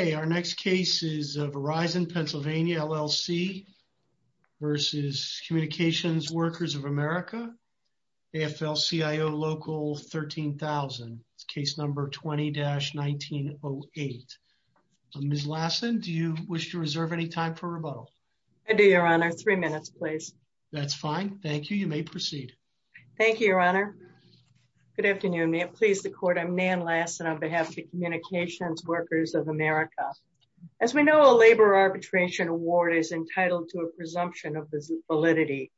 of America, AFL-CIO Local 13,000, case number 20-1908. Ms. Lassen, do you wish to reserve any time for rebuttal? I do, Your Honor. Three minutes, please. That's fine. Thank you. You may proceed. Thank you, Your Honor. Good afternoon. Please support me, I'm Nan Lassen on behalf of Communications Workers of America. As we know, a labor arbitration award is entitled to a presumption of validity.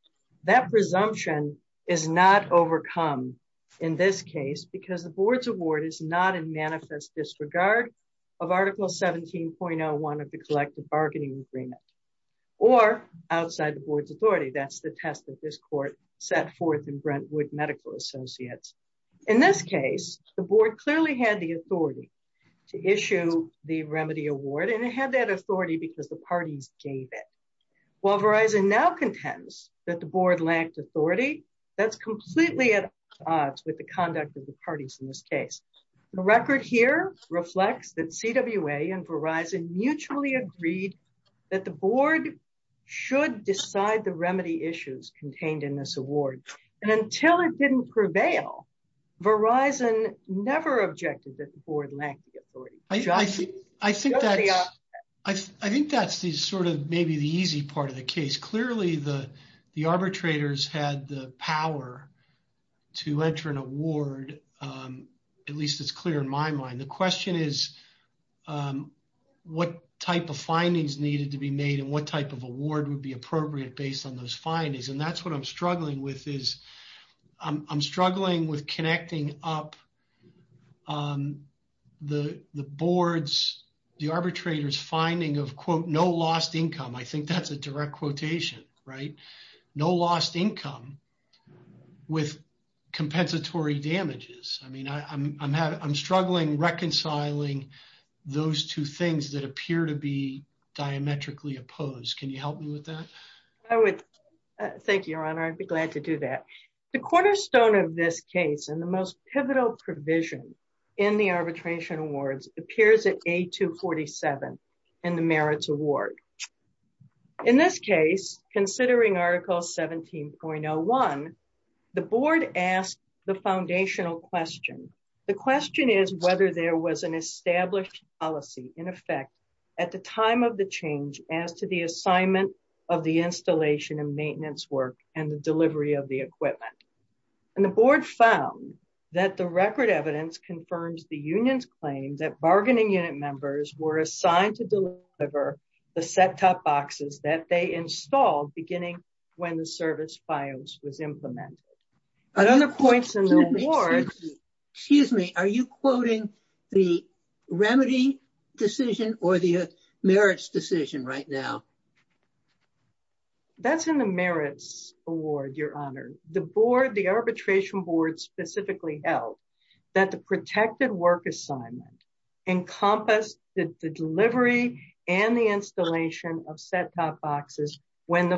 That presumption is not overcome in this case because the board's award is not in manifest disregard of Article 17.01 of the collective bargaining agreement or outside the board's authority. That's the test that this court set forth in Brentwood Medical Associates. In this case, the board clearly had the authority to issue the remedy award and it had that authority because the parties gave it. While Verizon now contends that the board lacked authority, that's completely at odds with the conduct of the parties in this case. The record here reflects that CWA and Verizon mutually agreed that the board should decide the remedy issues contained in this award. Until it didn't prevail, Verizon never objected to the board lacking authority. I think that's sort of maybe the easy part of the case. Clearly, the arbitrators had the power to enter an award, at least it's clear in my mind. The question is what type of findings needed to be made and what type of award would be appropriate based on those findings. That's what I'm struggling with. I'm struggling with connecting up the board's, the arbitrator's finding of, quote, no lost income. I think that's a direct quotation, right? No lost income with compensatory damages. I mean, I'm struggling reconciling those two things that appear to be diametrically opposed. Can you help me with that? I would. Thank you, your honor. I'd be glad to do that. The cornerstone of this case and the most pivotal provision in the arbitration awards appears at A247 in the merits award. In this case, considering article 17.01, the board asked the foundational question. The question is whether there was an established policy in effect at the time of the change as to the assignment of the installation and maintenance work and the delivery of the equipment. The board found that the record evidence confirms the union's claim that bargaining unit members were assigned to deliver the set-top boxes that they installed beginning when the service bios was implemented. Another point in the awards, excuse me, are you quoting the remedy decision or the merits decision right now? That's in the merits award, your honor. The board, the arbitration board specifically held that the protective work assignment encompassed the delivery and the installation of set-top boxes when the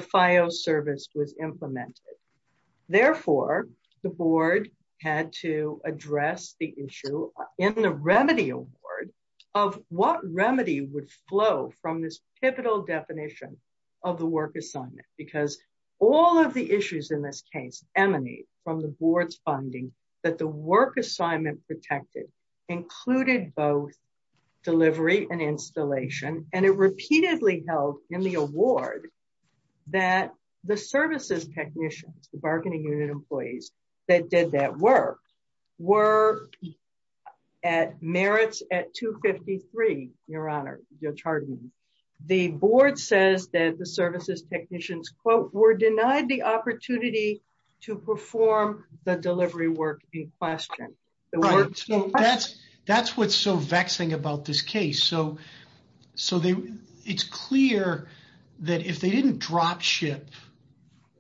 board had to address the issue in the remedy award of what remedy would flow from this pivotal definition of the work assignment. Because all of the issues in this case emanate from the board's funding that the work assignment protected included both delivery and installation. And it did that work. We're at merits at 253, your honor, your charging. The board says that the services technicians, quote, were denied the opportunity to perform the delivery work in question. So that's what's so vexing about this case. So it's clear that if they didn't drop ship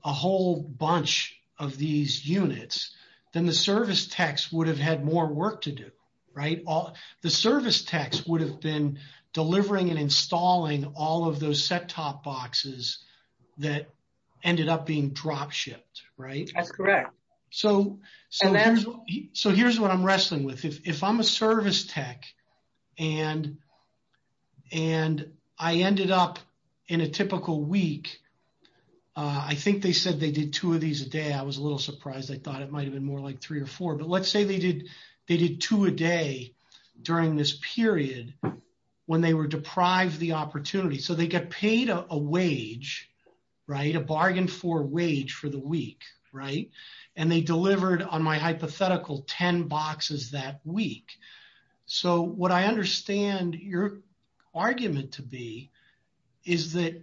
a whole bunch of these units, then the service techs would have had more work to do, right? The service techs would have been delivering and installing all of those set-top boxes that ended up being drop shipped, right? That's correct. So here's what I'm wrestling with. If I'm a service tech and I ended up in a typical week, I think they said they did two of these a day. I was a little surprised. I thought it might have been more like three or four. But let's say they did two a day during this period when they were deprived the opportunity. So they get paid a wage, right? A bargain for wage for the week, right? And they delivered on my hypothetical 10 boxes that week. So what I understand your argument to be is that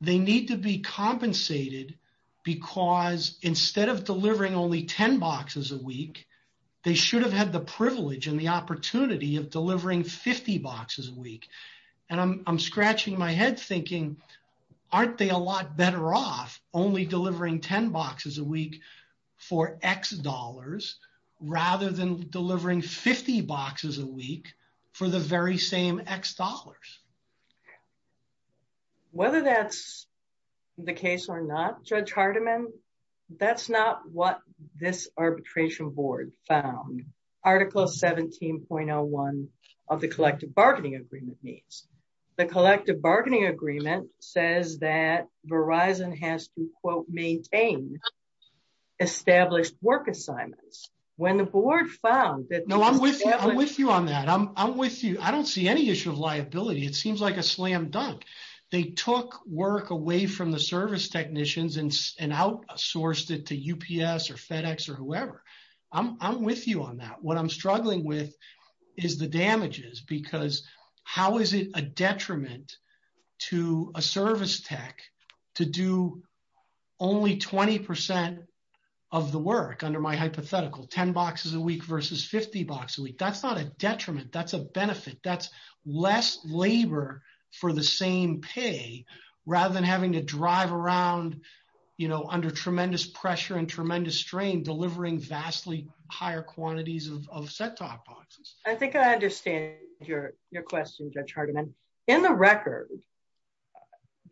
they need to be compensated because instead of delivering only 10 boxes a week, they should have had the privilege and the opportunity of delivering 50 boxes a week. And I'm scratching my head thinking, aren't they a lot better off only delivering 10 boxes a week for X dollars rather than delivering 50 boxes a week for the very same X dollars? Whether that's the case or not, Judge Hardiman, that's not what this arbitration board found. Article 17.01 of the Collective Bargaining Agreement means. The Collective Bargaining Agreement says that Verizon has to quote, maintain established work assignments. When the board found that- No, I'm with you on that. I'm with you. I don't see any issue of liability. It seems like a slam dunk. They took work away from the service technicians and outsourced it to UPS or FedEx or whoever. I'm with you on that. What I'm struggling with is the damages because how is it a detriment to a service tech to do only 20% of the work under my hypothetical, 10 boxes a week versus 50 boxes a week? That's not a detriment. That's a benefit. That's less labor for the same pay rather than having to drive around under tremendous pressure and tremendous strain delivering vastly higher quantities of set-top boxes. I think I understand your question, Judge Hardiman. In the record,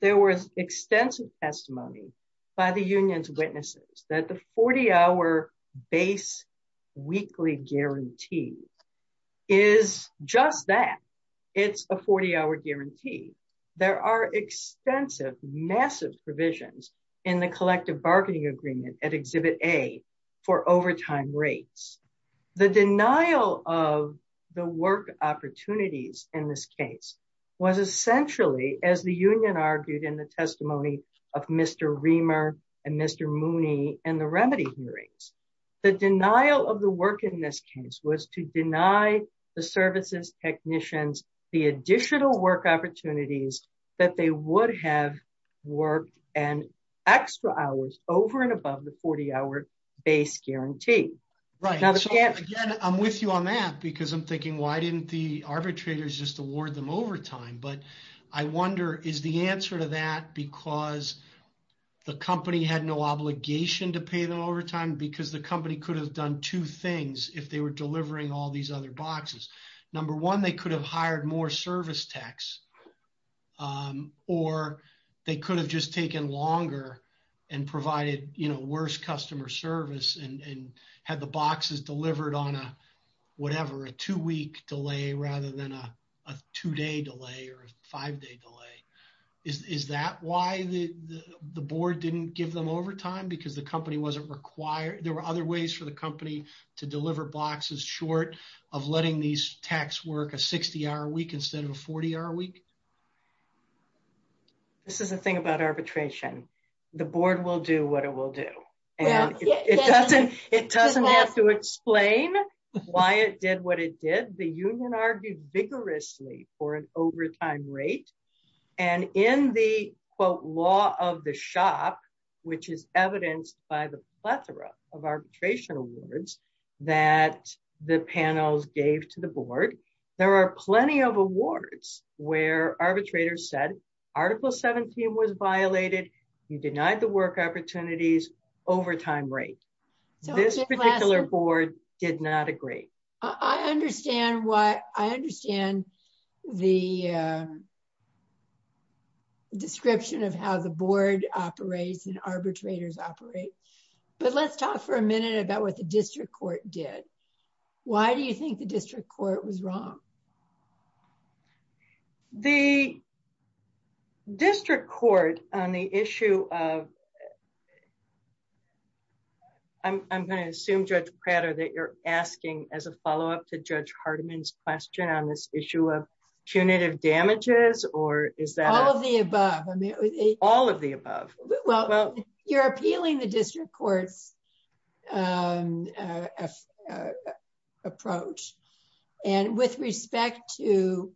there was extensive testimony by the union's witnesses that the 40 hour base weekly guarantee is just that. It's a 40 hour guarantee. There are extensive, massive provisions in the collective bargaining agreement at Exhibit A for overtime rates. The denial of the work opportunities in this case was essentially as the union argued in the testimony of Mr. Reamer and Mr. Mooney and the remedy hearings. The denial of the work in this case was to deny the services technicians the additional work opportunities that they would have worked and extra hours over and above the 40 hour base guarantee. Again, I'm with you on that because I'm thinking why didn't the arbitrators just award them overtime? I wonder is the answer to that because the company had no obligation to pay the overtime because the company could have done two things if they were delivering all these other boxes. Number one, they could have hired more service techs or they could have just taken longer and provided worse customer service and had the boxes delivered on a whatever, a two-week delay rather than a two-day delay or a five-day delay. Is that why the board didn't give them overtime because the company wasn't required? There were other ways for the company to deliver boxes short of letting these techs work a 60-hour week instead of a 40-hour week? This is the thing about arbitration. The board will do what it will do. It doesn't have to explain why it did what it did. The union argued vigorously for an overtime rate and in the quote law of the shop, which is evidenced by the plethora of arbitration awards that the panels gave to the board, there are plenty of awards where arbitrators said Article 17 was violated, you denied the work opportunities, overtime rate. This particular board did not agree. I understand the description of how the let's talk for a minute about what the district court did. Why do you think the district court was wrong? The district court on the issue of I'm going to assume Judge Prado that you're asking as a follow-up to Judge Hardiman's question on this issue of punitive damages or is that all of the above? You're appealing the district court's approach and with respect to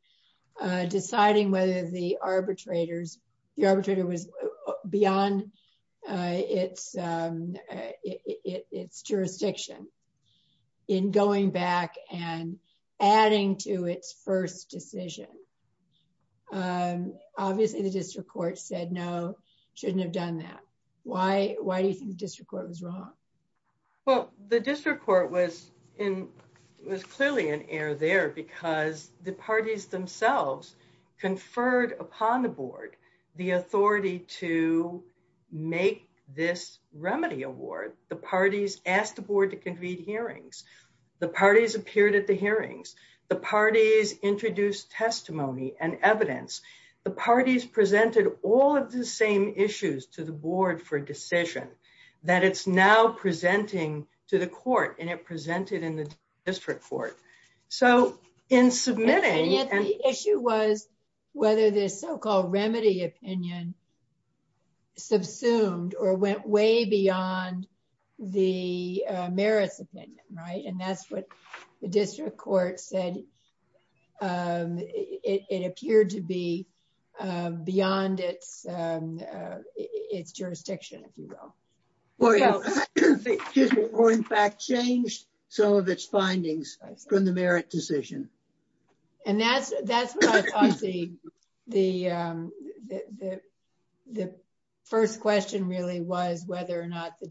deciding whether the arbitrator was beyond its jurisdiction in going back and adding to its first decision. Obviously, the district court said no, shouldn't have done that. Why do you think the district court was wrong? Well, the district court was clearly in error there because the parties themselves conferred upon the board the authority to make this remedy award. The parties asked the evidence. The parties presented all of the same issues to the board for decision that it's now presenting to the court and it presented in the district court. The issue was whether the so-called remedy opinion subsumed or went way beyond the merit opinion, right? That's what the district court said. It appeared to be beyond its jurisdiction. Or in fact changed some of its findings from the merit decision. And that's the first question really was whether or not the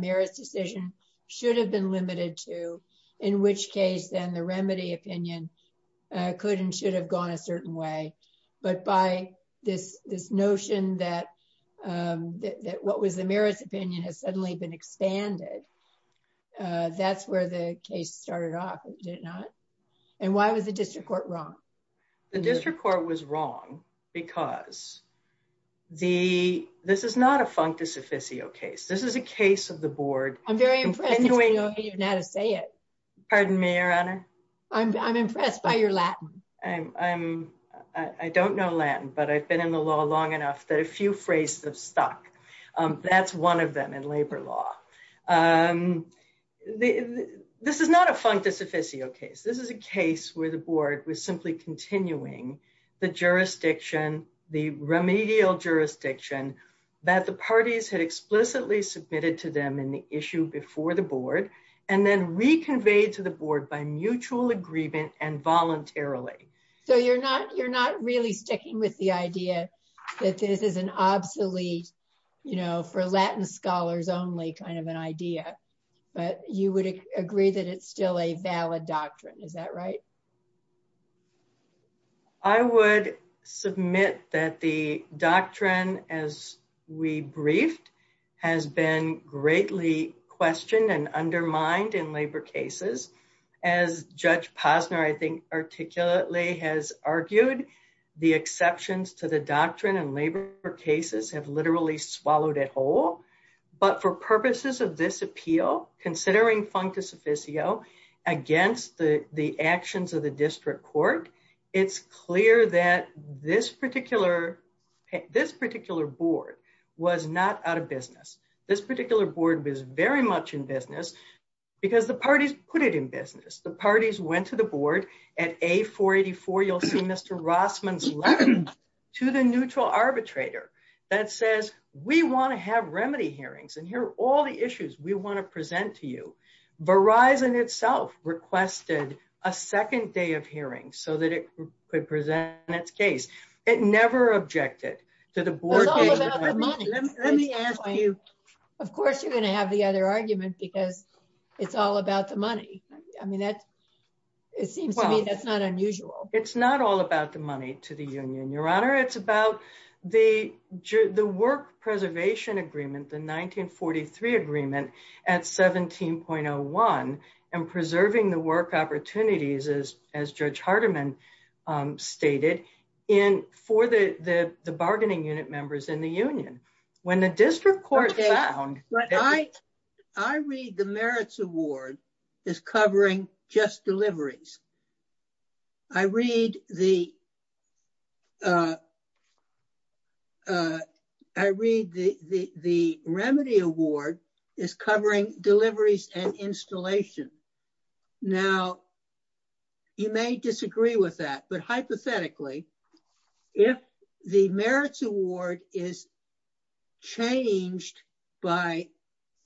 merit decision should have been limited to in which case then the remedy opinion could and should have gone a certain way. But by this notion that what was the merit opinion has suddenly been expanded, that's where the case started off, is it not? And why was the district court wrong? The district court was wrong because this is not a functus officio case. This is a case of the board. I'm very impressed by your Latin. I don't know Latin, but I've been in the law long enough that a few phrases stuck. That's one of them in labor law. This is not a functus officio case. This is a case where the board was simply continuing the jurisdiction, the remedial jurisdiction that the parties had explicitly submitted to them in the issue before the board and then reconveyed to the board by mutual agreement and voluntarily. So you're not really sticking with the idea that this is an obsolete, you know, for Latin scholars only kind of an idea, but you would agree that it's still a valid doctrine. Is that right? I would submit that the doctrine as we briefed has been greatly questioned and undermined in labor cases. As Judge Posner I think articulately has argued, the exceptions to the doctrine in labor cases have literally swallowed it whole. But for purposes of this appeal, considering functus officio against the actions of the district court, it's clear that this particular board was not out of business. This particular board was very much in business because the parties put it in business. The parties went to the board at A484, you'll see Mr. Rossman's letter, to the neutral arbitrator that says, we want to have remedy hearings and here are all the issues we want to present to you. Verizon itself requested a second day of hearings so that it could present its case. It never objected to the board. Let me ask you, of course you're going to have the other argument because it's all about the money. I mean, it seems to me that's not unusual. It's not all about the money to the union, your honor. It's about the work preservation agreement, the 1943 agreement at 17.01 and preserving the work opportunities as Judge Hardiman stated for the bargaining unit members in the union. When the district court found... I read the merits award is covering just deliveries. I read the remedy award is covering deliveries and installation. Now, you may disagree with that, but hypothetically, if the merits award is changed by,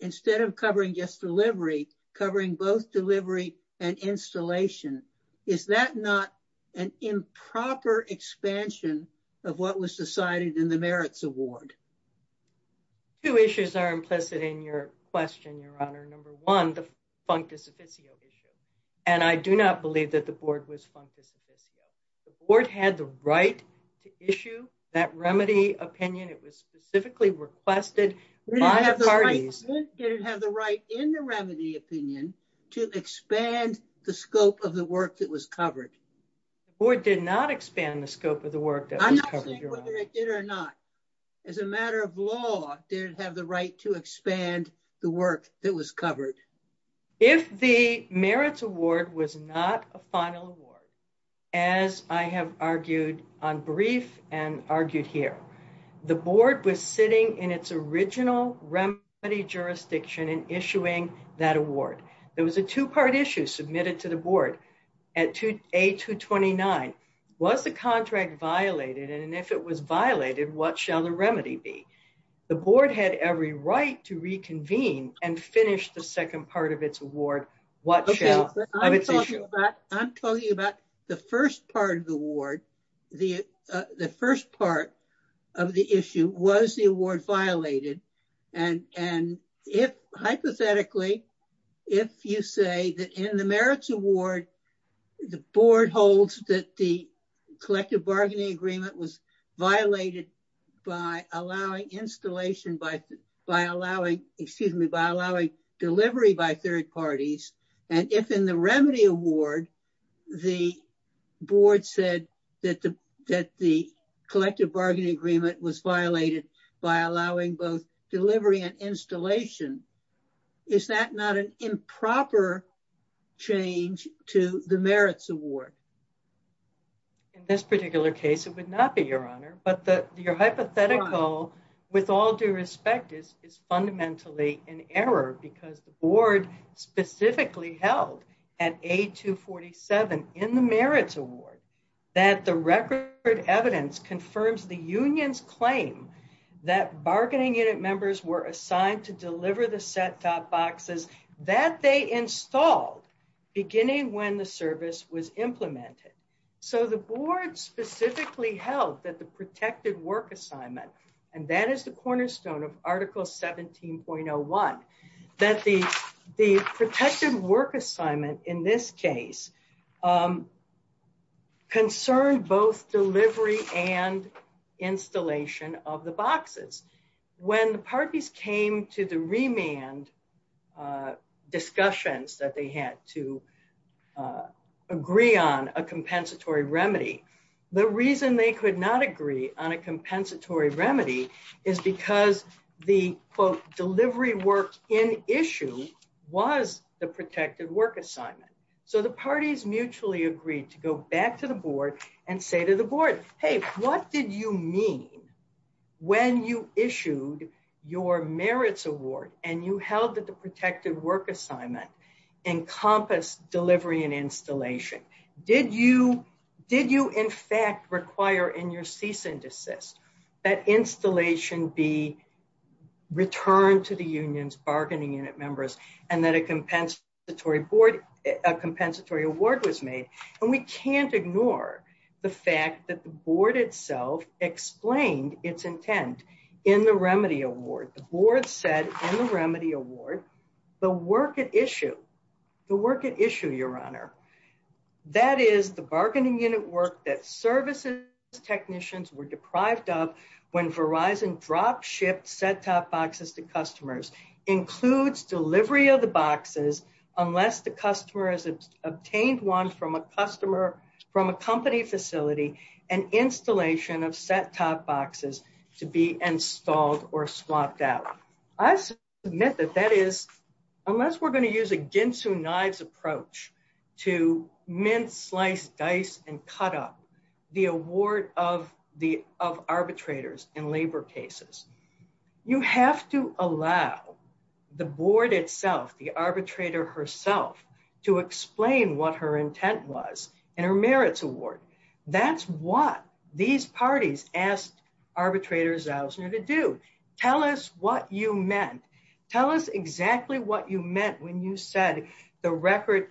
instead of covering just delivery, covering both delivery and installation, is that not an improper expansion of what was decided in the merits award? Two issues are implicit in your question, your honor. Number one, functus officio issue. And I do not believe that the board was functus officio. The board had the right to issue that remedy opinion. It was specifically requested by the parties. Did it have the right in the remedy opinion to expand the scope of the work that was covered? The board did not expand the scope of the work that was covered, your honor. I'm not saying whether it did or not. As a matter of law, did it have the right to expand the work that was covered? If the merits award was not a final award, as I have argued on brief and argued here, the board was sitting in its original remedy jurisdiction and issuing that award. There was a two-part issue submitted to the board at A229. Was the contract violated? And if it was violated, what shall the remedy be? The board had every right to reconvene and finish the second part of its award. I'm talking about the first part of the award. The first part of the issue was the award violated. And hypothetically, if you say that in the merits award, the board holds that the collective bargaining agreement was violated by allowing installation by allowing delivery by third parties, and if in the remedy award, the board said that the collective bargaining agreement was violated by allowing both delivery and installation, is that not an improper change to the merits award? In this particular case, it would not be, your honor. But your hypothetical, with all due respect, is fundamentally an error because the board specifically held at A247 in the merits award that the record evidence confirms the union's claim that bargaining unit members were assigned to deliver the set-top boxes that they installed beginning when the service was implemented. So the board specifically held that the protected work assignment, and that is the cornerstone of article 17.01, that the protective work assignment was the protective work assignment of the boxes. When the parties came to the remand discussions that they had to agree on a compensatory remedy, the reason they could not agree on a compensatory remedy is because the, quote, delivery works in issue was the protective work assignment. So the parties mutually agreed to go back to the board and say to the board, hey, what did you mean when you issued your merits award and you held that the protective work assignment encompassed delivery and installation? Did you in fact require in your cease and desist that installation be returned to the union's bargaining unit members and that a compensatory award was made? And we can't ignore the fact that the board itself explained its intent in the remedy award. The board said in the remedy award, the work at issue, the work at issue, your honor, that is the bargaining unit work that services technicians were deprived of when Verizon drop-shipped set-top boxes to customers includes delivery of the boxes unless the customer has obtained one from a customer, from a company facility, an installation of set-top boxes to be installed or swapped out. I submit that that is, unless we're going to use a ginsu knife approach to mince, slice, dice, and cut up, the award of arbitrators in labor cases. You have to allow the board itself, the arbitrator herself, to explain what her intent was in her merits award. That's what these parties asked arbitrators Zausner to do. Tell us what you meant. Tell us exactly what you meant when you said the record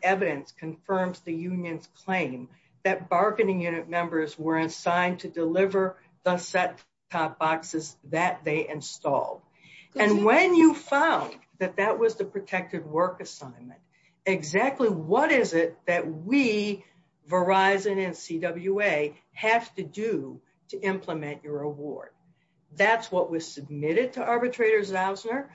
confirms the union's claim that bargaining unit members were assigned to deliver the set-top boxes that they installed. And when you found that that was the protected work assignment, exactly what is it that we, Verizon and CWA, have to do to implement your award? That's what was submitted to arbitrators Zausner.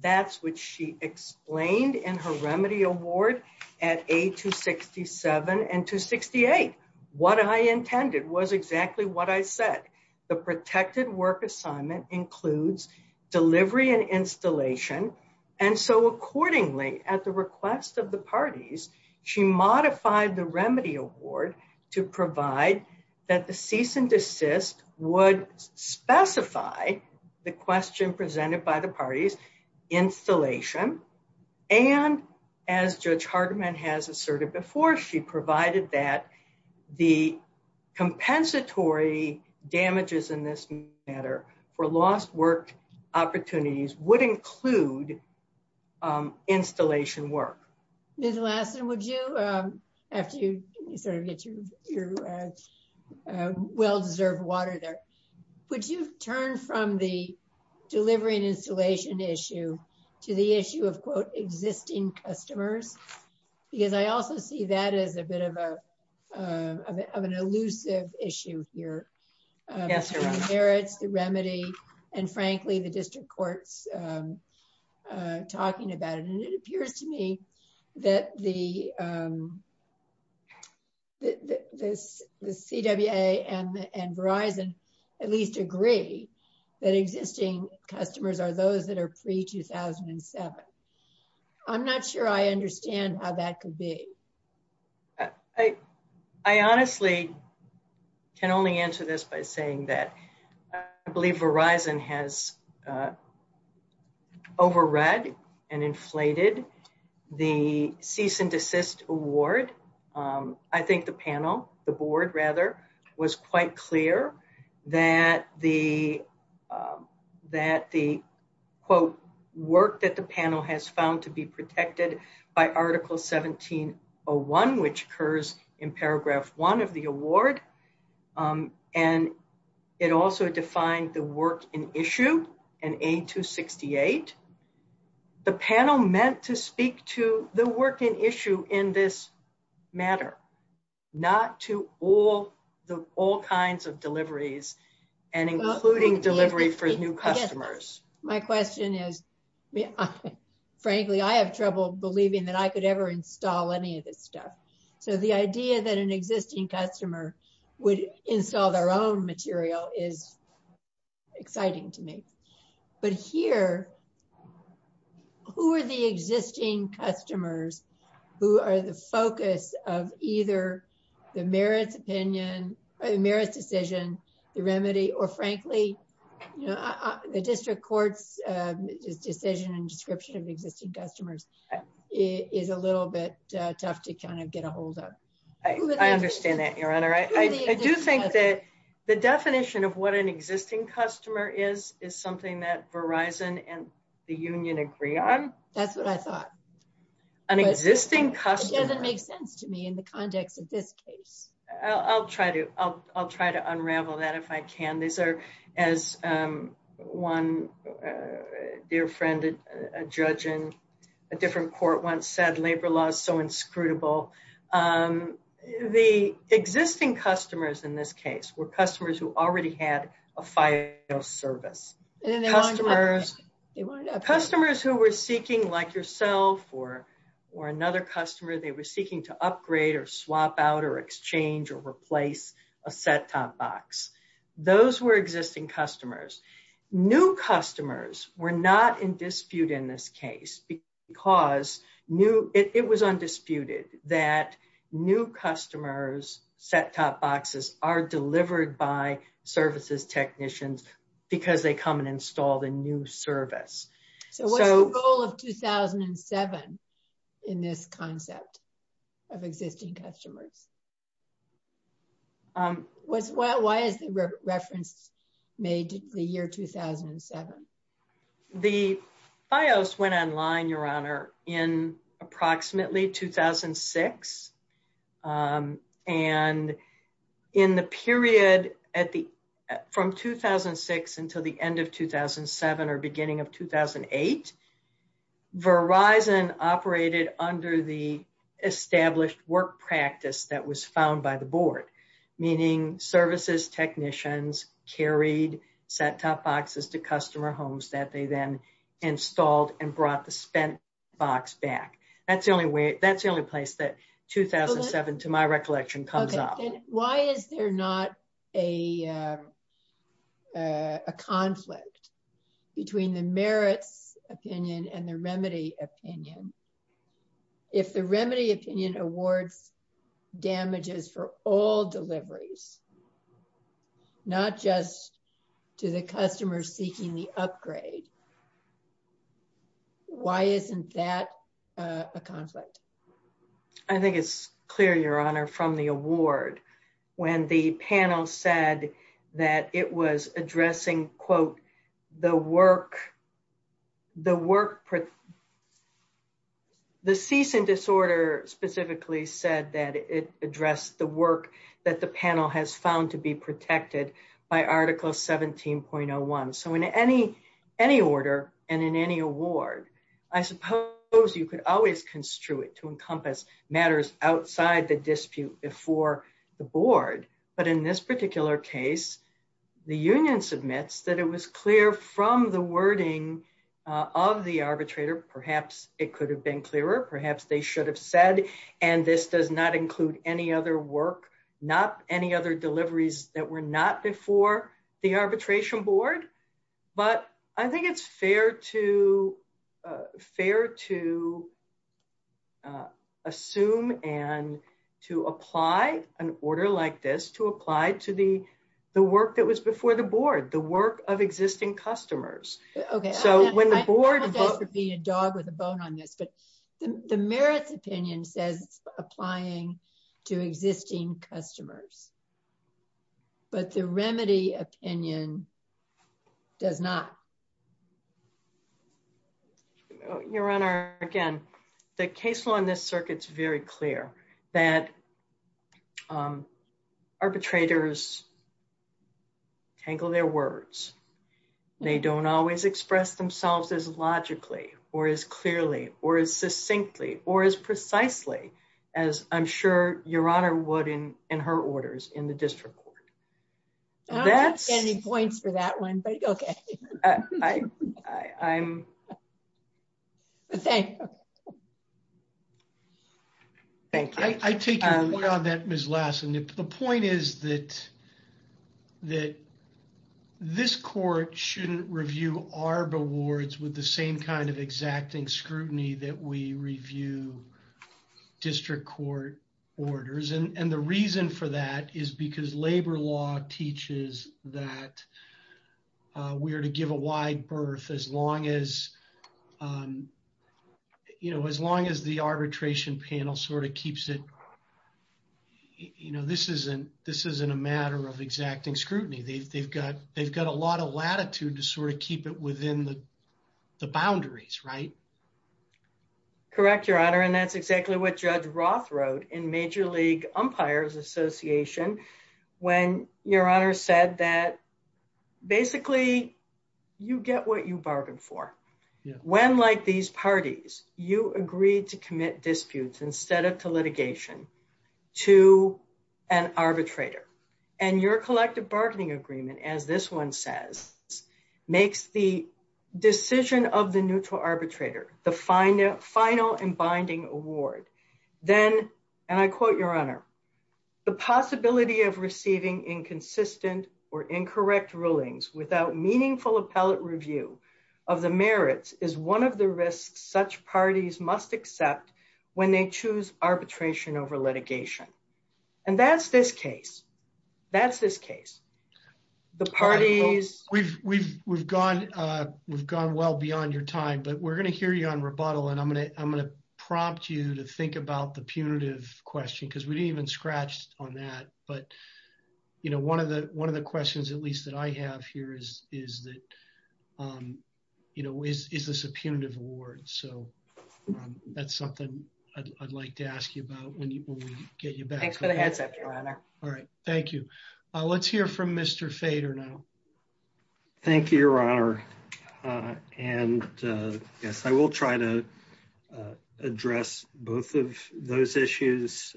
That's what she explained in her remedy award at A267 and 268. What I intended was exactly what I said. The protected work assignment includes delivery and installation. And so accordingly, at the request of the parties, she modified the remedy award to provide that the cease and desist would specify the question presented by the has asserted before she provided that the compensatory damages in this matter for lost work opportunities would include installation work. Ms. Lassen, would you, after you get your well-deserved water there, would you turn from the delivery and installation issue to the issue of, quote, existing customers? Because I also see that as a bit of an elusive issue here. Yes, sir. The merits, the remedy, and frankly, the district court's talking about it. And it appears to me that the CWA and Verizon at least agree that existing customers are those that are pre-2007. I'm not sure I understand how that could be. I honestly can only answer this by saying that I believe Verizon has overread and inflated the cease and desist award. I think the panel, the board rather, was quite clear that the, quote, work that the panel has found to be protected by Article 1701, which occurs in Paragraph 1 of the award. And it also defined the work in issue in A268. The panel meant to speak to the work in issue in this matter, not to all kinds of deliveries and including delivery for new customers. My question is, frankly, I have trouble believing that I could ever install any of this stuff. So the idea that an existing customer would install their own material is exciting to me. But here, who are the existing customers who are the focus of either the merits opinion or the merits decision, the remedy, or frankly, the district court's decision and description of existing customers is a little bit tough to kind of get a I do think that the definition of what an existing customer is, is something that Verizon and the union agree on. That's what I thought. An existing customer. It doesn't make sense to me in the context of this case. I'll try to unravel that if I can. These are, as one dear friend, a judge a different court once said, labor law is so inscrutable. The existing customers in this case were customers who already had a file service. Customers who were seeking, like yourself or another customer, they were seeking to upgrade or swap out or exchange or replace a Fedcom box. Those were existing customers. New customers were not in dispute in this case because it was undisputed that new customers' Fedcom boxes are delivered by services technicians because they come and install the new service. So what's the goal of 2007 in this concept of existing customers? Why is the reference made the year 2007? The Fios went online, Your Honor, in approximately 2006. And in the period from 2006 until the end of 2007 or beginning of 2008, Verizon operated under the established work practice that was found by the board, meaning services technicians carried Fedcom boxes to customer homes that they then installed and brought the spent box back. That's the only place that 2007, to my recollection, comes out. Okay. Why is there not a conflict between the merit opinion and the remedy opinion? If the remedy opinion awards damages for all deliveries, not just to the customers seeking upgrade, why isn't that a conflict? I think it's clear, Your Honor, from the award when the panel said that it was addressing, quote, the work, the work, the ceasing disorder specifically said that it addressed the work that the panel has found to be protected by Article 17.01. So in any order and in any award, I suppose you could always construe it to encompass matters outside the dispute before the board. But in this particular case, the union submits that it was clear from the wording of the arbitrator, perhaps it could have been clearer, perhaps they should have said, and this does not include any other work, not any other deliveries that were not before the arbitration board. But I think it's fair to, fair to assume and to apply an order like this, to apply to the work that was before the board, the work of existing customers. Okay. So when the board... I don't want that to be a dog with a bone on it, but the merit opinion says applying to existing customers, but the remedy opinion does not. Your Honor, again, the case law in this circuit is very clear that arbitrators tangle their words. They don't always express themselves as logically or as clearly or as succinctly or as precisely as I'm sure Your Honor would in her orders in the district court. I don't have any points for that one, but okay. I take your point on that, Ms. Lassen. The point is that that this court shouldn't review ARB awards with the same kind of exacting scrutiny that we review district court orders. And the reason for that is because labor law teaches that we are to give a wide berth as long as, you know, as long as the arbitration panel sort of keeps it, you know, this isn't a matter of exacting scrutiny. They've got a lot of latitude to sort of keep it within the boundaries, right? Correct, Your Honor. And that's exactly what Judge Roth wrote in Major League Umpires Association when Your Honor said that basically you get what you bargained for. When, like these parties, you agree to commit disputes instead of litigation to an arbitrator and your collective bargaining agreement, as this one says, makes the decision of the neutral arbitrator the final and binding award, then, and I quote, Your Honor, the possibility of receiving inconsistent or incorrect rulings without meaningful appellate review of the merits is one of the risks such parties must accept when they choose arbitration over litigation. And that's this case. That's this case. The parties... We've gone well beyond your time, but we're going to hear you on rebuttal, and I'm going to prompt you to think about the punitive question because we didn't even scratch on that. But, you know, one of the questions at least that I have here is that, you know, is this a punitive award? So that's something I'd like to ask you about when we get you back. Thanks for the heads up, Your Honor. All right. Thank you. Let's hear from Mr. Fader now. Thank you, Your Honor. And yes, I will try to address both of those issues.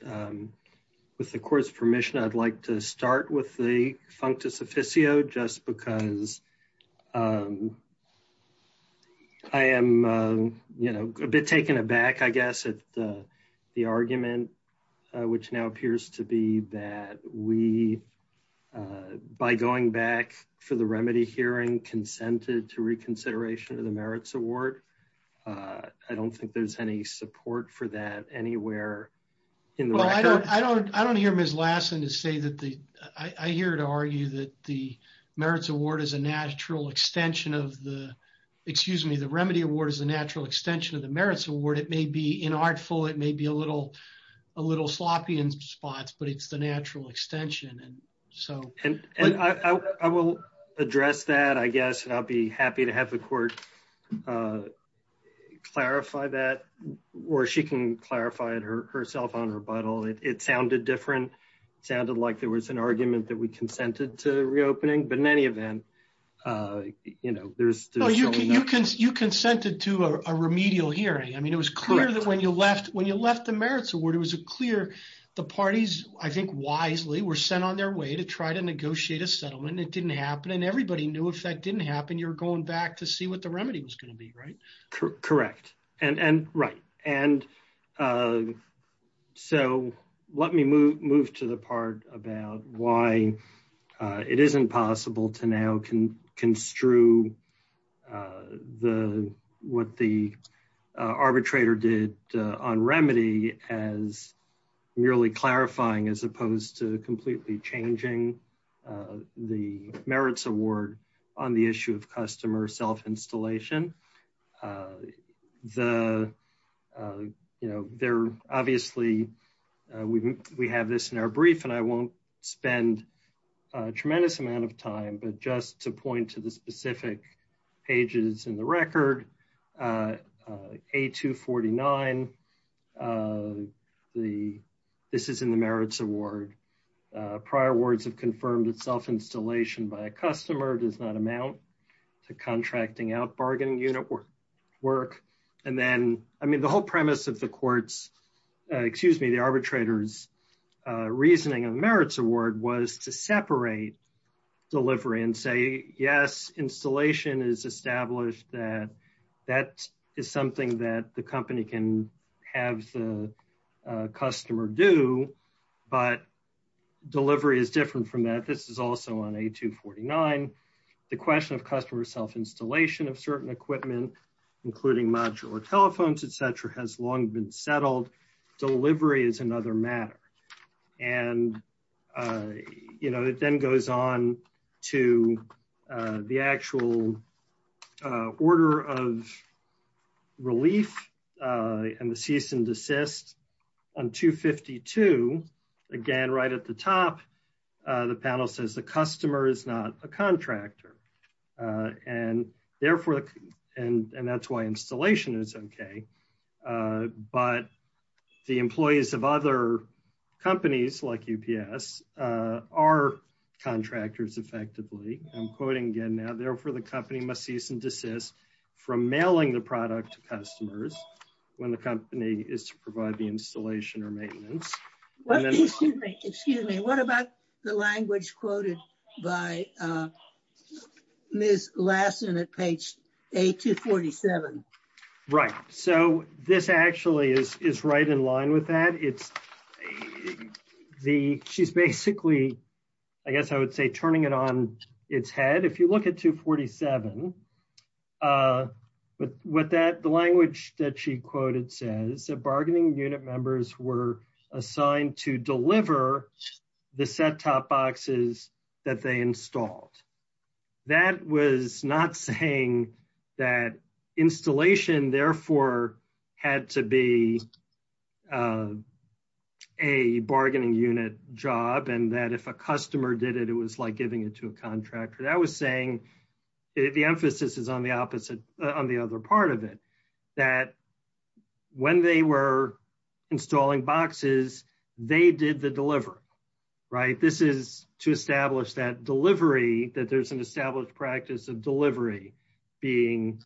With the court's permission, I'd like to start with the functus officio just because I am, you know, a bit taken aback, I guess, at the argument, which now appears to be that we, by going back for the remedy hearing, consented to reconsideration of the merits award. I don't think there's any support for that anywhere in the... Well, I don't hear Ms. Lassen to say that the... I hear her to argue that the merits award is a natural extension of the... Excuse me, the remedy award is a natural extension of the merits award. It may be inartful. It may be a little sloppy in spots, but it's the natural extension. And so... I will address that, I guess, and I'll be happy to have the court clarify that or she can clarify it herself on rebuttal. It sounded different. It sounded like it was an argument that we consented to reopening, but in any event, you know, there's... You consented to a remedial hearing. I mean, it was clear that when you left, when you left the merits award, it was clear the parties, I think, wisely were sent on their way to try to negotiate a settlement. It didn't happen and everybody knew if that didn't happen, you're going back to see what the remedy was going to be, right? Correct. And right. And so let me move to the part about why it isn't possible to now construe what the arbitrator did on remedy as merely clarifying as opposed to completely changing the merits award on the issue of customer self-installation. The, you know, there obviously, we have this in our brief and I won't spend a tremendous amount of time, but just to point to the specific pages in the record, A249, this is in the merits award. Prior words have confirmed that self-installation by a customer does not amount to contracting out bargaining unit work. And then, I mean, the whole premise of the court's, excuse me, the arbitrator's reasoning and merits award was to separate delivery and say, yes, installation is established that that is something that the company can have the customer do, but delivery is different from that. This is also on A249. The question of customer self-installation of certain equipment, including modular telephones, et cetera, has long been settled. Delivery is another matter. And, you know, it then goes on to the actual order of release and the cease and desist on 252. Again, right at the top, the panel says the customer is not a contractor. And therefore, and that's why installation is okay. But the employees of other companies like UPS are contractors effectively. I'm quoting again now, therefore, the company must cease and desist from mailing the product to customers when the company is to provide the installation or maintenance. Excuse me. What about the language quoted by Ms. Lassen at page A247? Right. So, this actually is right in line with that. It's the, she's basically, I guess I would say turning it on its head. If you look at 247, but with that, the language that she quoted says the bargaining unit members were assigned to deliver the set-top boxes that they installed. That was not saying that installation therefore had to be a bargaining unit job. And that if a customer did it, it was like giving it to a contractor. That was saying, the emphasis is on the opposite, on the other part of it, that when they were installing boxes, they did the deliver, right? This is to establish that delivery, that there's an established practice of delivery being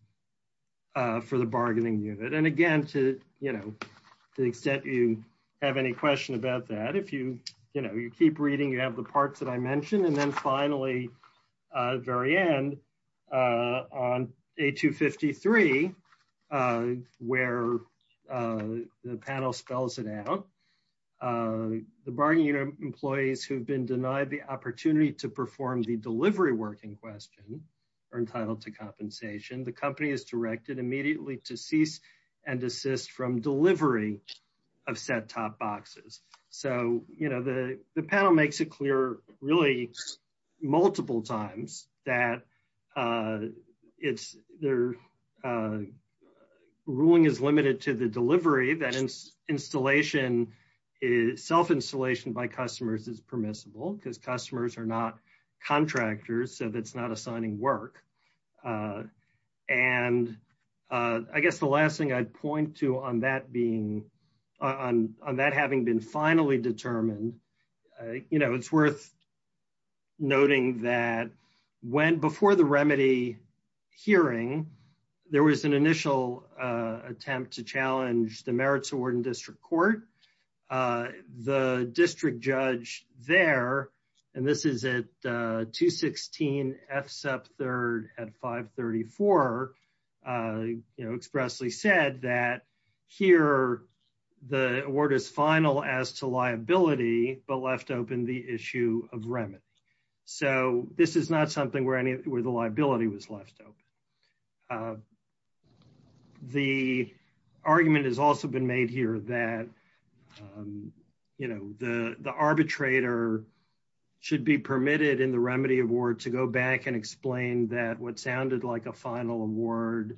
for the bargaining unit. And again, to the extent you have any question about that, you keep reading, you have the parts that I mentioned. And then finally, very end on A253, where the panel spells it out, the bargaining employees who've been denied the opportunity to perform the delivery work in question are entitled to compensation. The company is directed immediately to cease and desist from delivery of set-top boxes. So, the panel makes it clear really multiple times that ruling is limited to the delivery, that self-installation by customers is permissible because customers are not contractors, so that's not assigning work. And I guess the last thing I'd point to on that having been finally determined, it's worth noting that before the remedy hearing, there was an initial attempt to challenge the merits award in district court. The district judge there, and this is at 216 FSEP 3rd at 534, expressly said that here the award is final as to liability but left open the issue of remit. So, this is not something where the liability was left open. The argument has also been made here that the arbitrator should be permitted in the remedy award to go back and explain that what sounded like a final award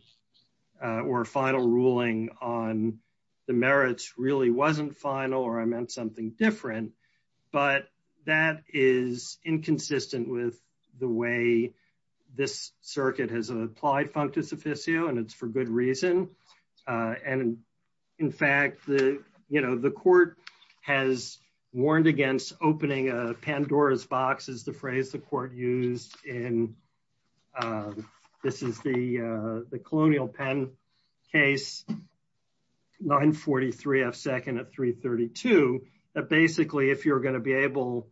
or final ruling on the merits really wasn't final or I meant something different, but that is inconsistent with the way this circuit has applied functus officio and it's for good reason. And in fact, the court has warned against opening a Pandora's box is the phrase the court used in, this is the colonial pen case, 943 FSEP at 332, that basically if you're going to be able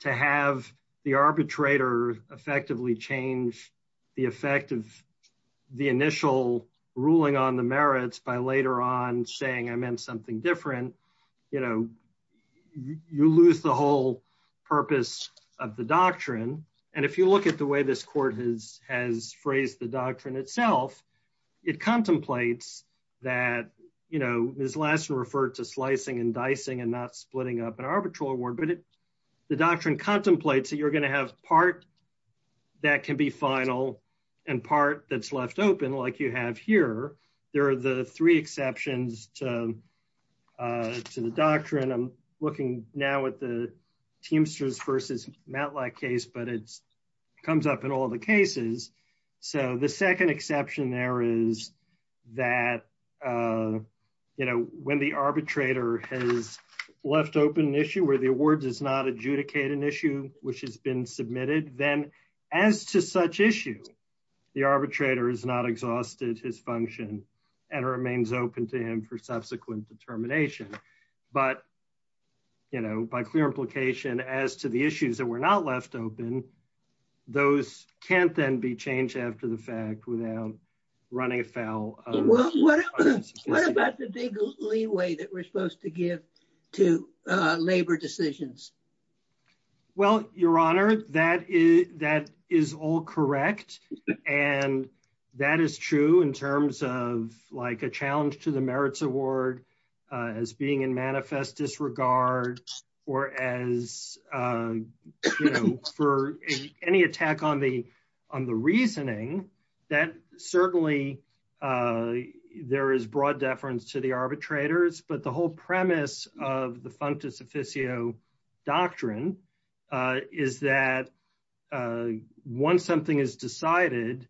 to have the arbitrator effectively change the effect of the initial ruling on the merits by later on saying I meant something different, you lose the whole purpose of the doctrine. And if you look at the way this court has phrased the doctrine itself, it contemplates that, Ms. Lassner referred to slicing and dicing and not splitting up an arbitral award, but the doctrine contemplates that you're going to have part that can be final and part that's left open like you have here. There are the three exceptions to the doctrine. I'm looking now at the Teamsters versus Matlock case, but it comes up in all the cases. So, the second exception there is that, you know, when the arbitrator has left open an issue where the award does not adjudicate an issue which has been submitted, then as to such issue, the arbitrator is not exhausted his function and remains open to him for subsequent determination. But, you know, by clear implication as to the issues that were not left open, those can't then be changed after the fact without running afoul. Well, what about the legal leeway that we're supposed to give to labor decisions? Well, Your Honor, that is all correct. And that is true in terms of like a challenge to the merits award as being in manifest disregard or as, you know, for any attack on the reasoning that certainly there is broad deference to the arbitrators. But the whole premise of the functus officio doctrine is that once something is decided,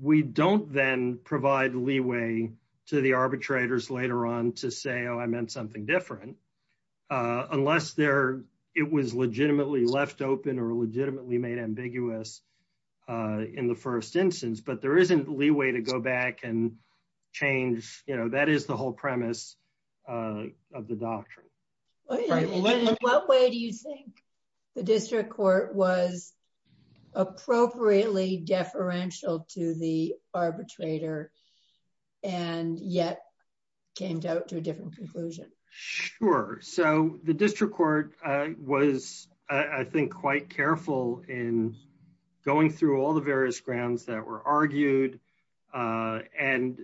we don't then provide leeway to the arbitrators later on to say, oh, I meant something different. Unless it was legitimately left open or legitimately made ambiguous in the first instance. But there isn't leeway to go back and change, you know, that is the whole premise of the doctrine. In what way do you think the district court was appropriately deferential to the arbitrator and yet came out to a different conclusion? Sure. So the district court was, I think, quite careful in going through all the various grounds that were argued and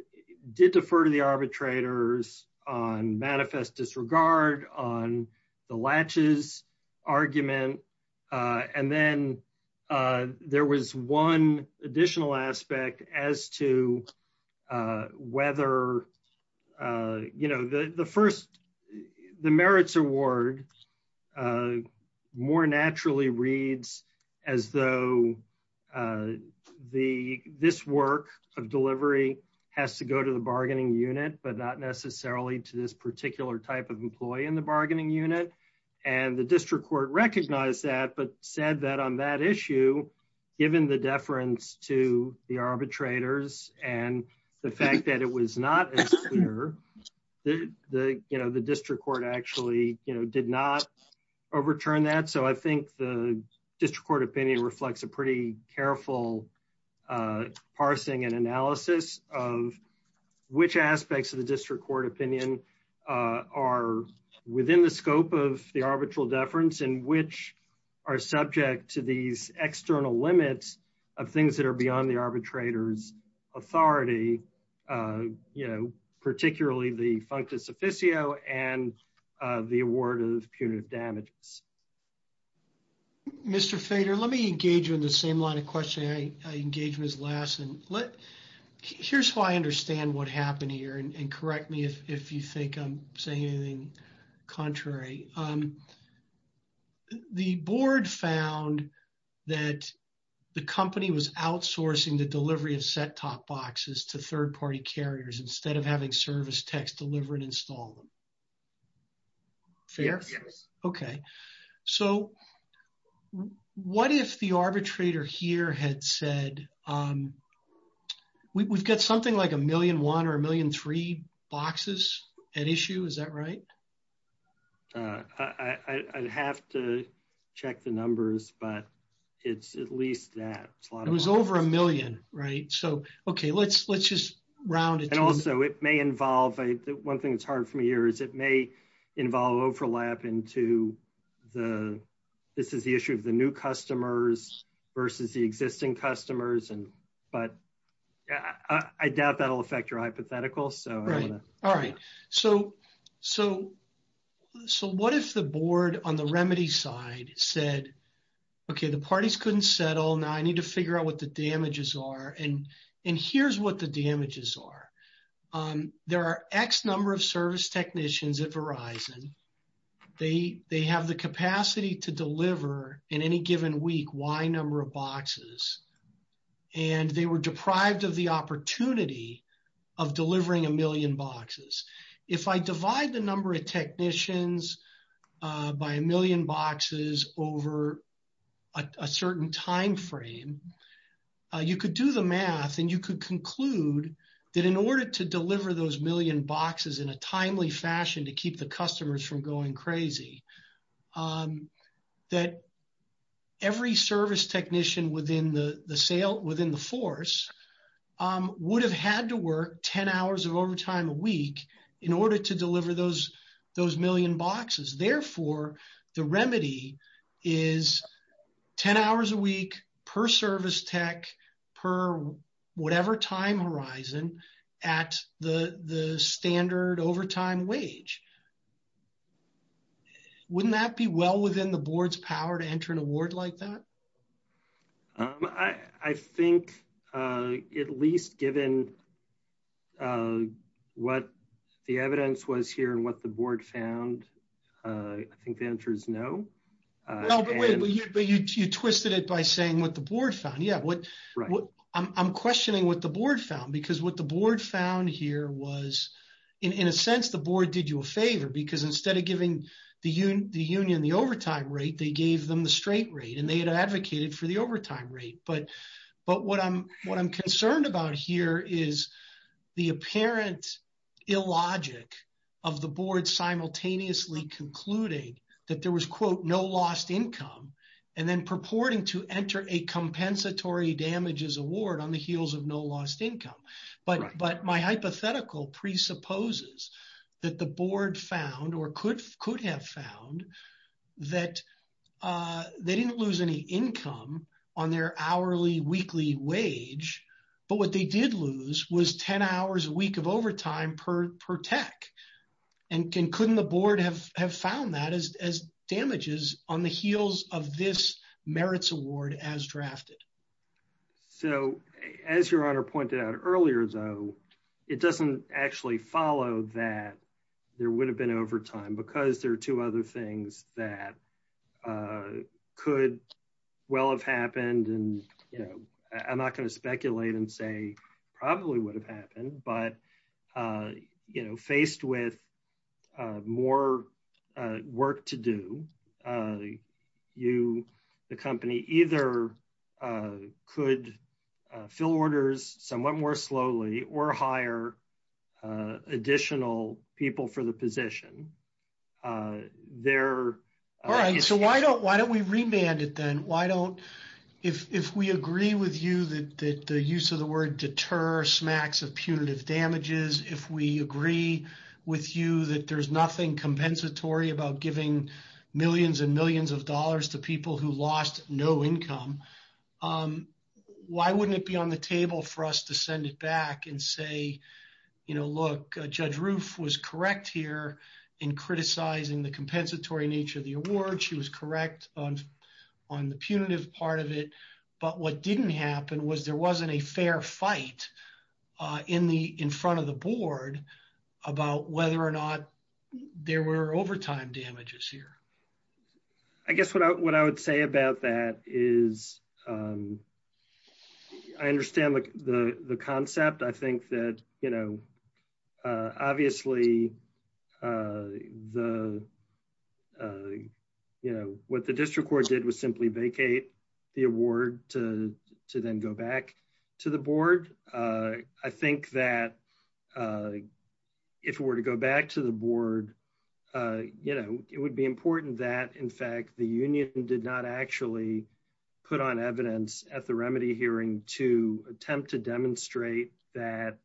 did defer to the arbitrators on manifest disregard, on the latches argument. And then there was one additional aspect as to whether, you know, the first the merits award more naturally reads as though this work of delivery has to go to the bargaining unit, but not necessarily to this particular type of employee in the bargaining unit. And the district court recognized that, but said that on that issue, given the deference to the arbitrators and the fact that it was not clear, the district court actually did not overturn that. So I think the district court opinion reflects a pretty careful parsing and analysis of which aspects of the district court opinion are within the scope of the arbitral deference and which are subject to these particularly the functus officio and the award of punitive damages. Mr. Feder, let me engage you in the same line of questioning I engaged with last. Here's how I understand what happened here, and correct me if you think I'm saying anything contrary. The board found that the company was outsourcing the delivery of set-top boxes to service tech delivery and installment. Fair? Yes. Okay. So what if the arbitrator here had said, we've got something like a million one or a million three boxes at issue, is that right? I'd have to check the numbers, but it's at least that. It was over a million, right? So, okay, let's just round it. And also it may involve, one thing that's hard for me here, is it may involve overlap into the, this is the issue of the new customers versus the existing customers. But I doubt that'll affect your hypothetical. All right. So what if the board on the remedy side said, okay, the parties couldn't settle. Now I need to figure out what the damages are. And here's what the damages are. There are X number of service technicians at Verizon. They have the capacity to deliver in any given week, Y number of boxes. And they were deprived of the opportunity of delivering a million boxes. If I divide the you could do the math and you could conclude that in order to deliver those million boxes in a timely fashion to keep the customers from going crazy, that every service technician within the sale, within the force would have had to work 10 hours of overtime a week in order to deliver those million boxes. Therefore, the remedy is 10 hours a week per service tech per whatever time horizon at the standard overtime wage. Wouldn't that be well within the board's power to enter an award like that? I think at least given what the evidence was here and what the board found, I think the answer is no. But you twisted it by saying what the board found. Yeah. I'm questioning what the board found because what the board found here was in a sense, the board did you a favor because instead of giving the union the overtime rate, they gave them the straight rate and they had advocated for the overtime rate. But what I'm concerned about here is the apparent illogic of the board simultaneously concluding that there was, quote, no lost income and then purporting to enter a compensatory damages award on the heels of no lost income. But my hypothetical presupposes that the board found or could have found that they didn't lose any income on their hourly weekly wage, but what they did lose was 10 hours a week of overtime per tech. And couldn't the board have found that as damages on the heels of this merits award as drafted? So as your honor pointed out earlier, though, it doesn't actually follow that there would have been overtime because there are two other things that could well have happened. And I'm not going to speculate and say probably would have happened, but faced with more work to do, you, the company, either could fill orders somewhat more slowly or hire additional people for the position. There... All right. So why don't we remand it then? If we agree with you that the use of the word deter smacks of punitive damages, if we agree with you that there's nothing compensatory about giving millions and millions of dollars to people who lost no income, why wouldn't it be on the table for us to send it back and say, you know, look, Judge Roof was correct here in criticizing the compensatory nature of the award. She was correct on the punitive part of it, but what didn't happen was there wasn't a fair fight in front of the board about whether or not there were overtime damages here. I guess what I would say about that is I understand the concept. I think that, you know, obviously the, you know, what the district court did was simply vacate the award to then go back to the board. I think that if we were to go back to the board, you know, it would be important that, in fact, the union did not actually put on evidence at the remedy hearing to attempt to demonstrate that,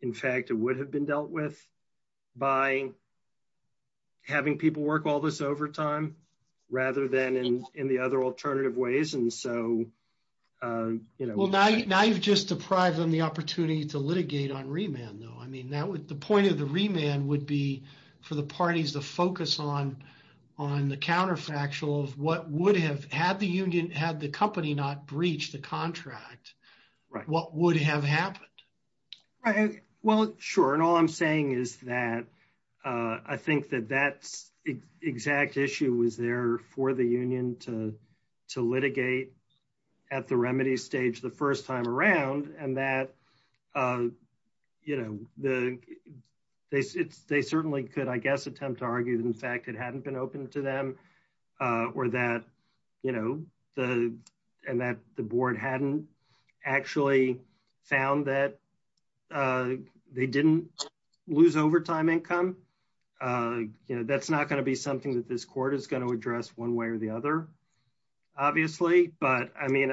in fact, it would have been dealt with by having people work all this overtime rather than in the other alternative ways. And so, you know... Well, now you've just deprived them the opportunity to litigate on remand though. I mean, the point of the remand would be for the parties to focus on the counterfactual of what would have... Had the company not breached the contract, what would have happened? Right. Well, sure. And all I'm saying is that I think that that exact issue was there for the they certainly could, I guess, attempt to argue that, in fact, it hadn't been open to them or that, you know, and that the board hadn't actually found that they didn't lose overtime income. That's not going to be something that this court is going to address one way or the other, obviously. But, I mean,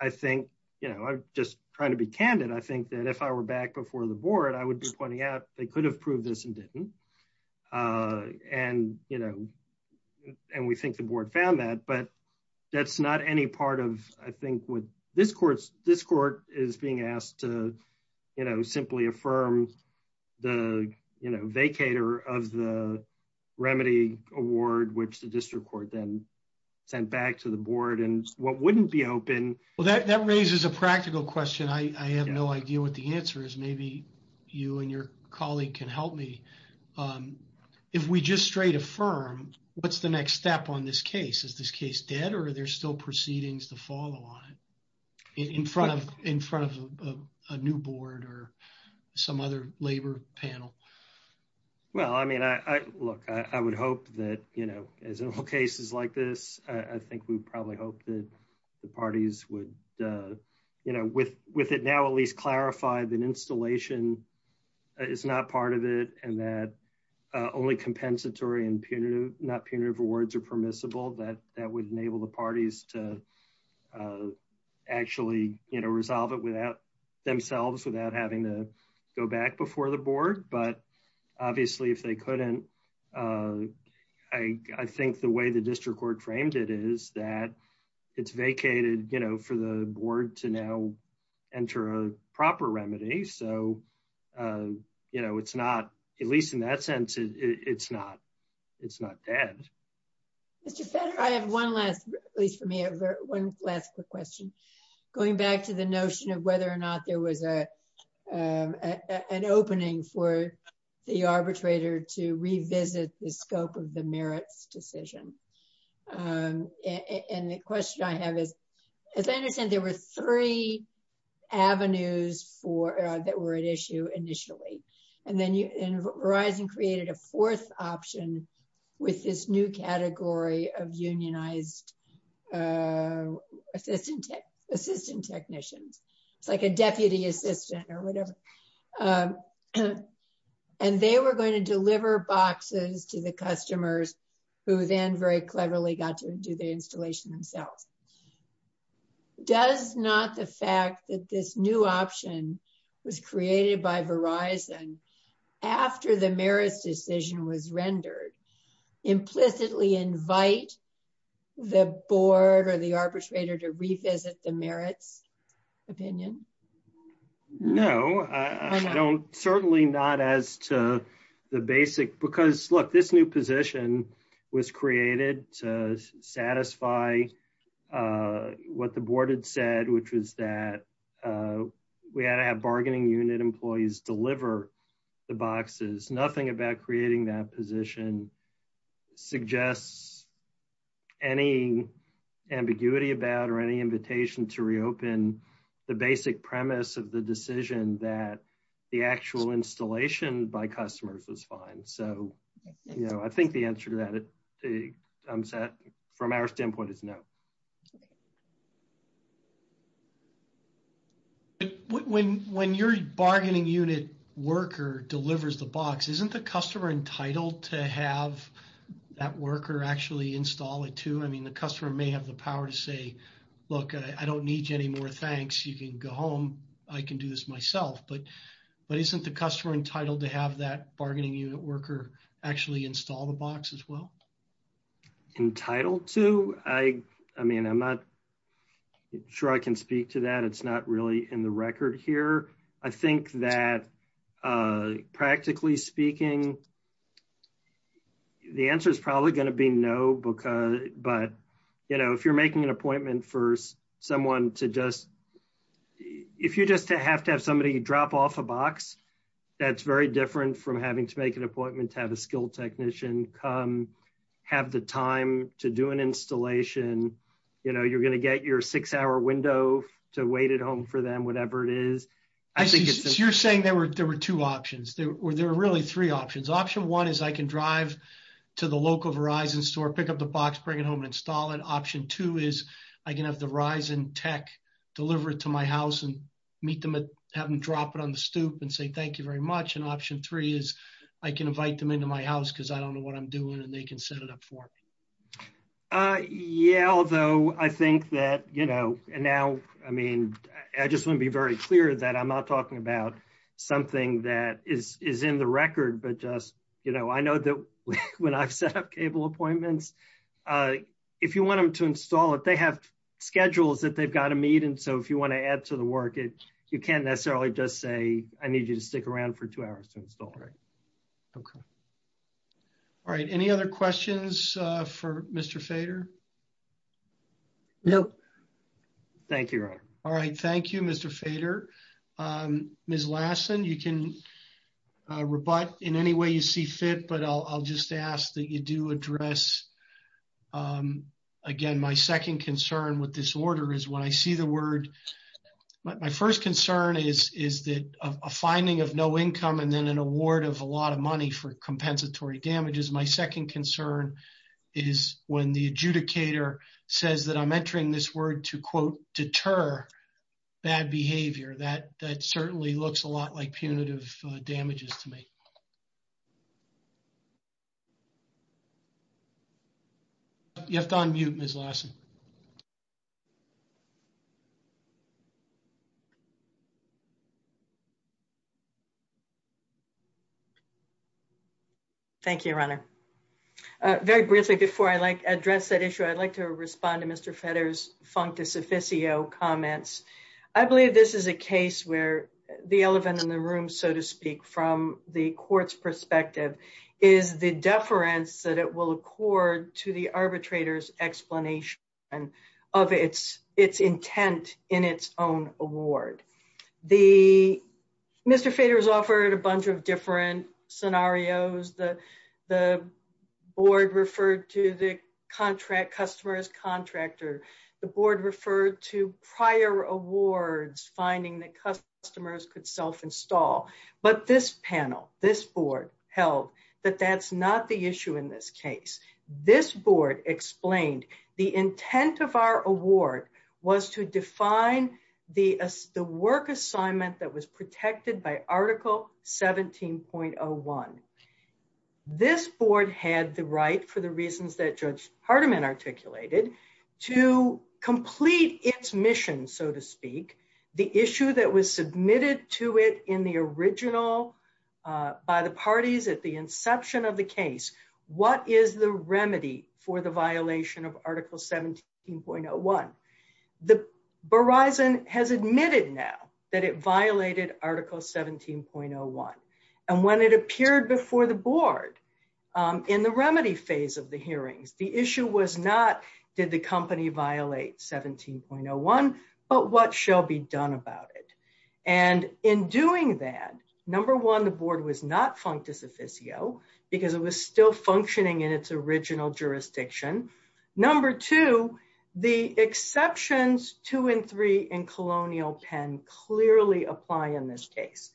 I think, you know, I'm just trying to be candid. I think that if I were back before the board, I would be pointing out they could have proved this and didn't. And, you know, and we think the board found that, but that's not any part of, I think, what this court is being asked to, you know, simply affirm the, you know, vacator of the remedy award, which the district court then sent back to the board and what wouldn't be open. Well, that raises a practical question. I have no idea what the answer is. Maybe you and your colleague can help me. If we just straight affirm, what's the next step on this case? Is this case dead or are there still proceedings to follow on it in front of a new board or some other labor panel? Well, I mean, look, I would hope that, you know, as in all would, you know, with it now at least clarified that installation is not part of it and that only compensatory and punitive, not punitive rewards are permissible, that would enable the parties to actually, you know, resolve it without themselves, without having to go back before the board. But, obviously, if they couldn't, I think the way the district court frames it is that it's vacated, you know, for the board to now enter a proper remedy. So, you know, it's not, at least in that sense, it's not, it's not bad. I have one last, at least for me, one last question. Going back to the notion of whether or not there was an opening for the arbitrator to revisit the scope of the merits decision. And the question I have is, as I understand, there were three avenues for, that were at issue initially. And then you, and Verizon created a fourth option with this new category of unionized assistant, assistant technicians, like a deputy assistant or whatever. And they were going to deliver boxes to the customers who then very cleverly got to do the installation themselves. Does not the fact that this new option was created by Verizon after the merits decision was rendered implicitly invite the board or the arbitrator to revisit the Certainly not as to the basic, because look, this new position was created to satisfy what the board had said, which was that we had to have bargaining unit employees deliver the boxes. Nothing about creating that position suggests any ambiguity about, any invitation to reopen the basic premise of the decision that the actual installation by customers is fine. So, you know, I think the answer to that, from our standpoint is no. When your bargaining unit worker delivers the box, isn't the customer entitled to have that worker actually install it too? I mean, the customer may have the power to say, look, I don't need any more thanks. You can go home. I can do this myself. But isn't the customer entitled to have that bargaining unit worker actually install the box as well? Entitled to? I mean, I'm not sure I can speak to that. It's not really in the record here. I think that, practically speaking, the answer is probably going to be no. But, you know, if you're making an appointment for someone to just, if you just have to have somebody drop off a box, that's very different from having to make an appointment to have a skilled technician come, have the time to do an installation. You know, you're going to get your six hour window to wait at home for them, whatever it is. You're saying there were two options. There were really three options. Option one is I can drive to the local Verizon store, pick up the box, bring it home and install it. Option two is I can have the Verizon tech deliver it to my house and meet them at, have them drop it on the stoop and say thank you very much. And option three is I can invite them into my house because I don't know what I'm doing and they can set it up for me. Yeah. Although I think that, you know, and now, I mean, I just want to be very clear that I'm not talking about something that is in the record, but just, you know, I know that when I've set up cable appointments, if you want them to install it, they have schedules that they've got to meet. And so if you want to add to the work, you can't necessarily just say, I need you to stick around for two hours to install it. Okay. All right. Any other questions for Mr. Fader? No. Thank you. All right. Thank you, Mr. Fader. Ms. Lassen, you can rebut in any way you see fit, but I'll just ask that you do address, again, my second concern with this order is when I see the word, my first concern is that a fining of no income and then an award of a lot of money for compensatory damages. My second concern is when the adjudicator says that I'm entering this word to, quote, deter bad behavior. That certainly looks a lot like punitive damages to me. You have to unmute, Ms. Lassen. Okay. Thank you, Your Honor. Very briefly, before I address that issue, I'd like to respond to Mr. Fader's functus officio comments. I believe this is a case where the elephant in the room, so to speak, from the court's perspective is the deference that it will accord to the award. Mr. Fader's offered a bunch of different scenarios. The board referred to the customer as contractor. The board referred to prior awards, finding that customers could self-install. But this panel, this board, held that that's not the issue in this case. This board explained the intent of our award was to define the work assignment that was protected by Article 17.01. This board had the right, for the reasons that Judge Hardiman articulated, to complete its mission, so to speak, the issue that was submitted to it in the original, by the parties at the inception of the case. What is the remedy for the violation of Article 17.01? The Verizon has admitted now that it violated Article 17.01. And when it appeared before the board in the remedy phase of the hearings, the issue was not did the company violate 17.01, but what shall be done about it? And in doing that, number one, the board was not functus officio because it was still functioning in its original jurisdiction. Number two, the exceptions two and three in Colonial Penn clearly apply in this case.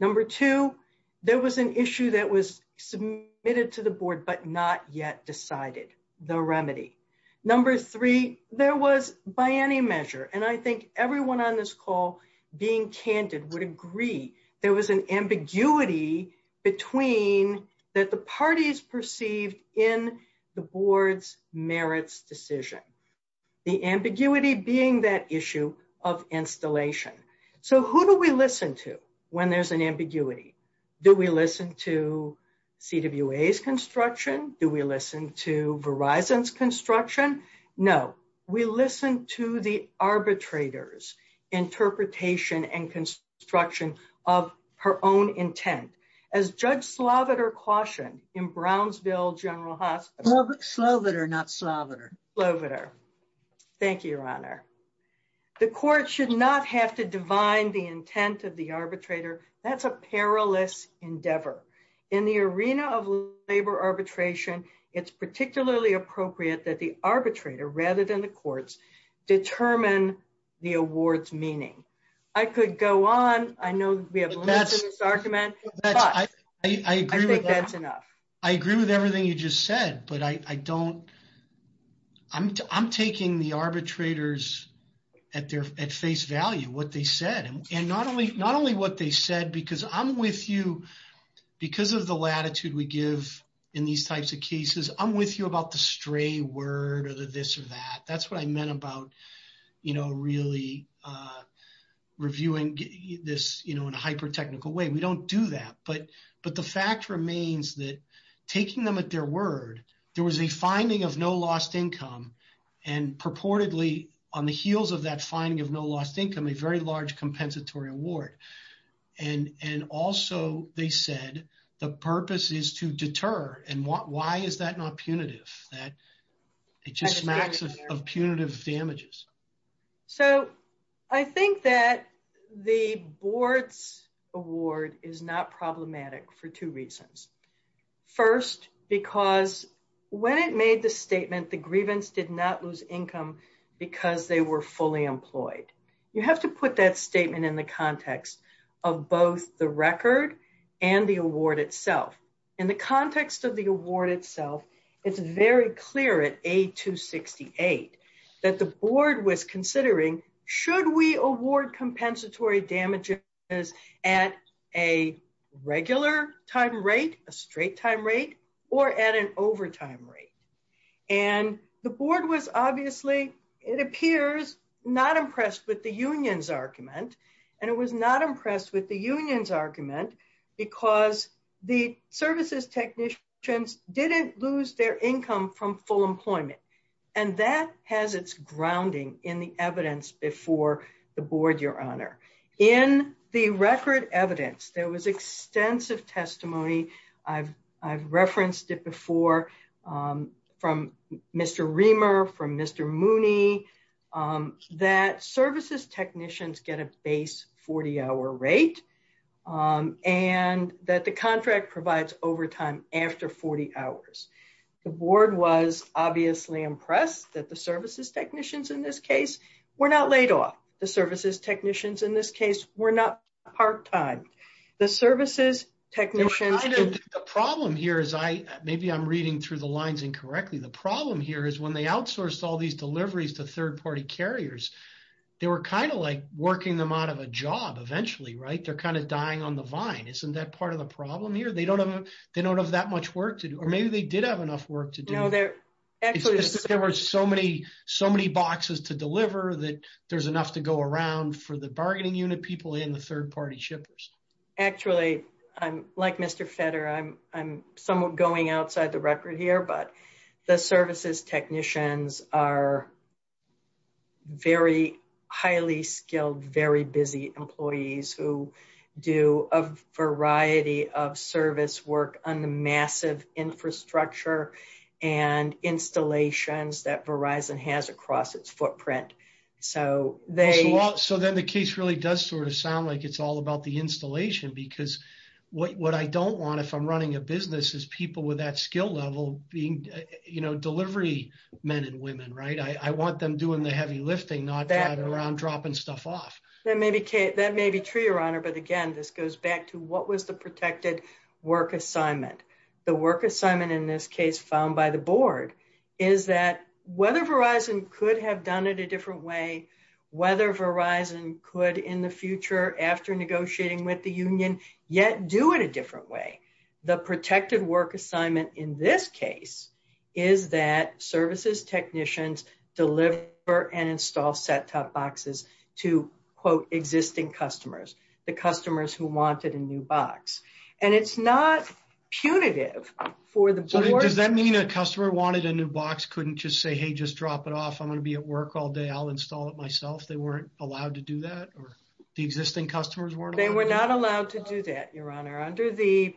Number two, there was an issue that was submitted to the board but not yet decided, the remedy. Number three, there was, by any measure, and I think everyone on this call being candid would agree, there was an ambiguity between that the parties perceived in the board's merits decision. The ambiguity being that issue of installation. So who do we listen to when there's an ambiguity? Do we listen to CWA's construction? Do we listen to Verizon's construction? No. We listen to the arbitrator's interpretation and construction of her own intent. As Judge Sloviter cautioned in Brownsville General Hospital... Sloviter, not Sloviter. Sloviter. Thank you, Your Honor. The court should not have to divine the intent of the arbitrator. That's a perilous endeavor. In the arena of labor arbitration, it's particularly appropriate that the arbitrator, rather than the courts, determine the award's meaning. I could go on. I know we have a list of this argument, but I think that's enough. I agree with everything you just said, but I don't... I'm taking the arbitrators at face value, what they said. And not only what they said, because I'm with you, because of the latitude we give in these types of cases, I'm with you about the stray word or the this or that. That's what I meant about really reviewing this in a hyper-technical way. We don't do that. But the fact remains that taking them at their word, there was a finding of no lost income and purportedly, on the heels of that finding of no lost income, a very large compensatory award. And also they said the purpose is to deter. And why is that not punitive? It's just a matter of punitive damages. So I think that the board's award is not problematic for two reasons. First, because when it made the statement, the grievance did not lose income because they were fully employed. You have to put that statement in the context of both the record and the award itself. In the context of the award itself, it's very clear at A268 that the board was considering, should we award compensatory damages at a regular time rate, a straight time rate, or at an overtime rate? And the board was obviously, it appears, not impressed with the union's argument. And it was not impressed with the union's argument because the services technicians didn't lose their income from full employment. And that has its grounding in the evidence before the board, your honor. In the record evidence, there was extensive testimony. I've referenced it before from Mr. Reamer, from Mr. Mooney, that services technicians get a base 40-hour rate and that the contract provides overtime after 40 hours. The board was obviously impressed that the services technicians in this case were not laid off. The services technicians in this case were not part-time. The services technicians... The problem here is, maybe I'm reading through the lines incorrectly, the problem here is when they outsourced all these deliveries to third-party carriers, they were kind of like working them out of a job eventually, right? They're kind of dying on the vine. Isn't that part of the problem here? They don't have that much work to do. Or maybe they did have enough work to do. It's just that there were so many boxes to deliver that there's enough to go around for the bargaining unit people and the third-party shippers. Actually, like Mr. Fetter, I'm somewhat going outside the record here, but the services technicians are very highly skilled, very busy employees who do a variety of service work on the massive infrastructure and installations that Verizon has across its footprint. So then the case really does sort of sound like it's all about the installation because what I don't want, if I'm running a business, is people with that skill level being delivery men and women, right? I want them doing the heavy lifting, not around dropping stuff off. That may be true, Your Honor, but again, this goes back to what was the protected work assignment? The work assignment in this case found by the board is that whether Verizon could have done it a different way, whether Verizon could in the future after negotiating with the union yet do it a different way, the protected work assignment in this case is that services technicians deliver and install set-top boxes to, quote, existing customers, the customers who wanted a new box. And it's not punitive for the board. Does that mean a customer wanted a new box couldn't just say, hey, just drop it off? I'm going to be at work all day. I'll install it myself. They weren't allowed to do that or the existing customers weren't allowed? They were not allowed to do that, Your Honor,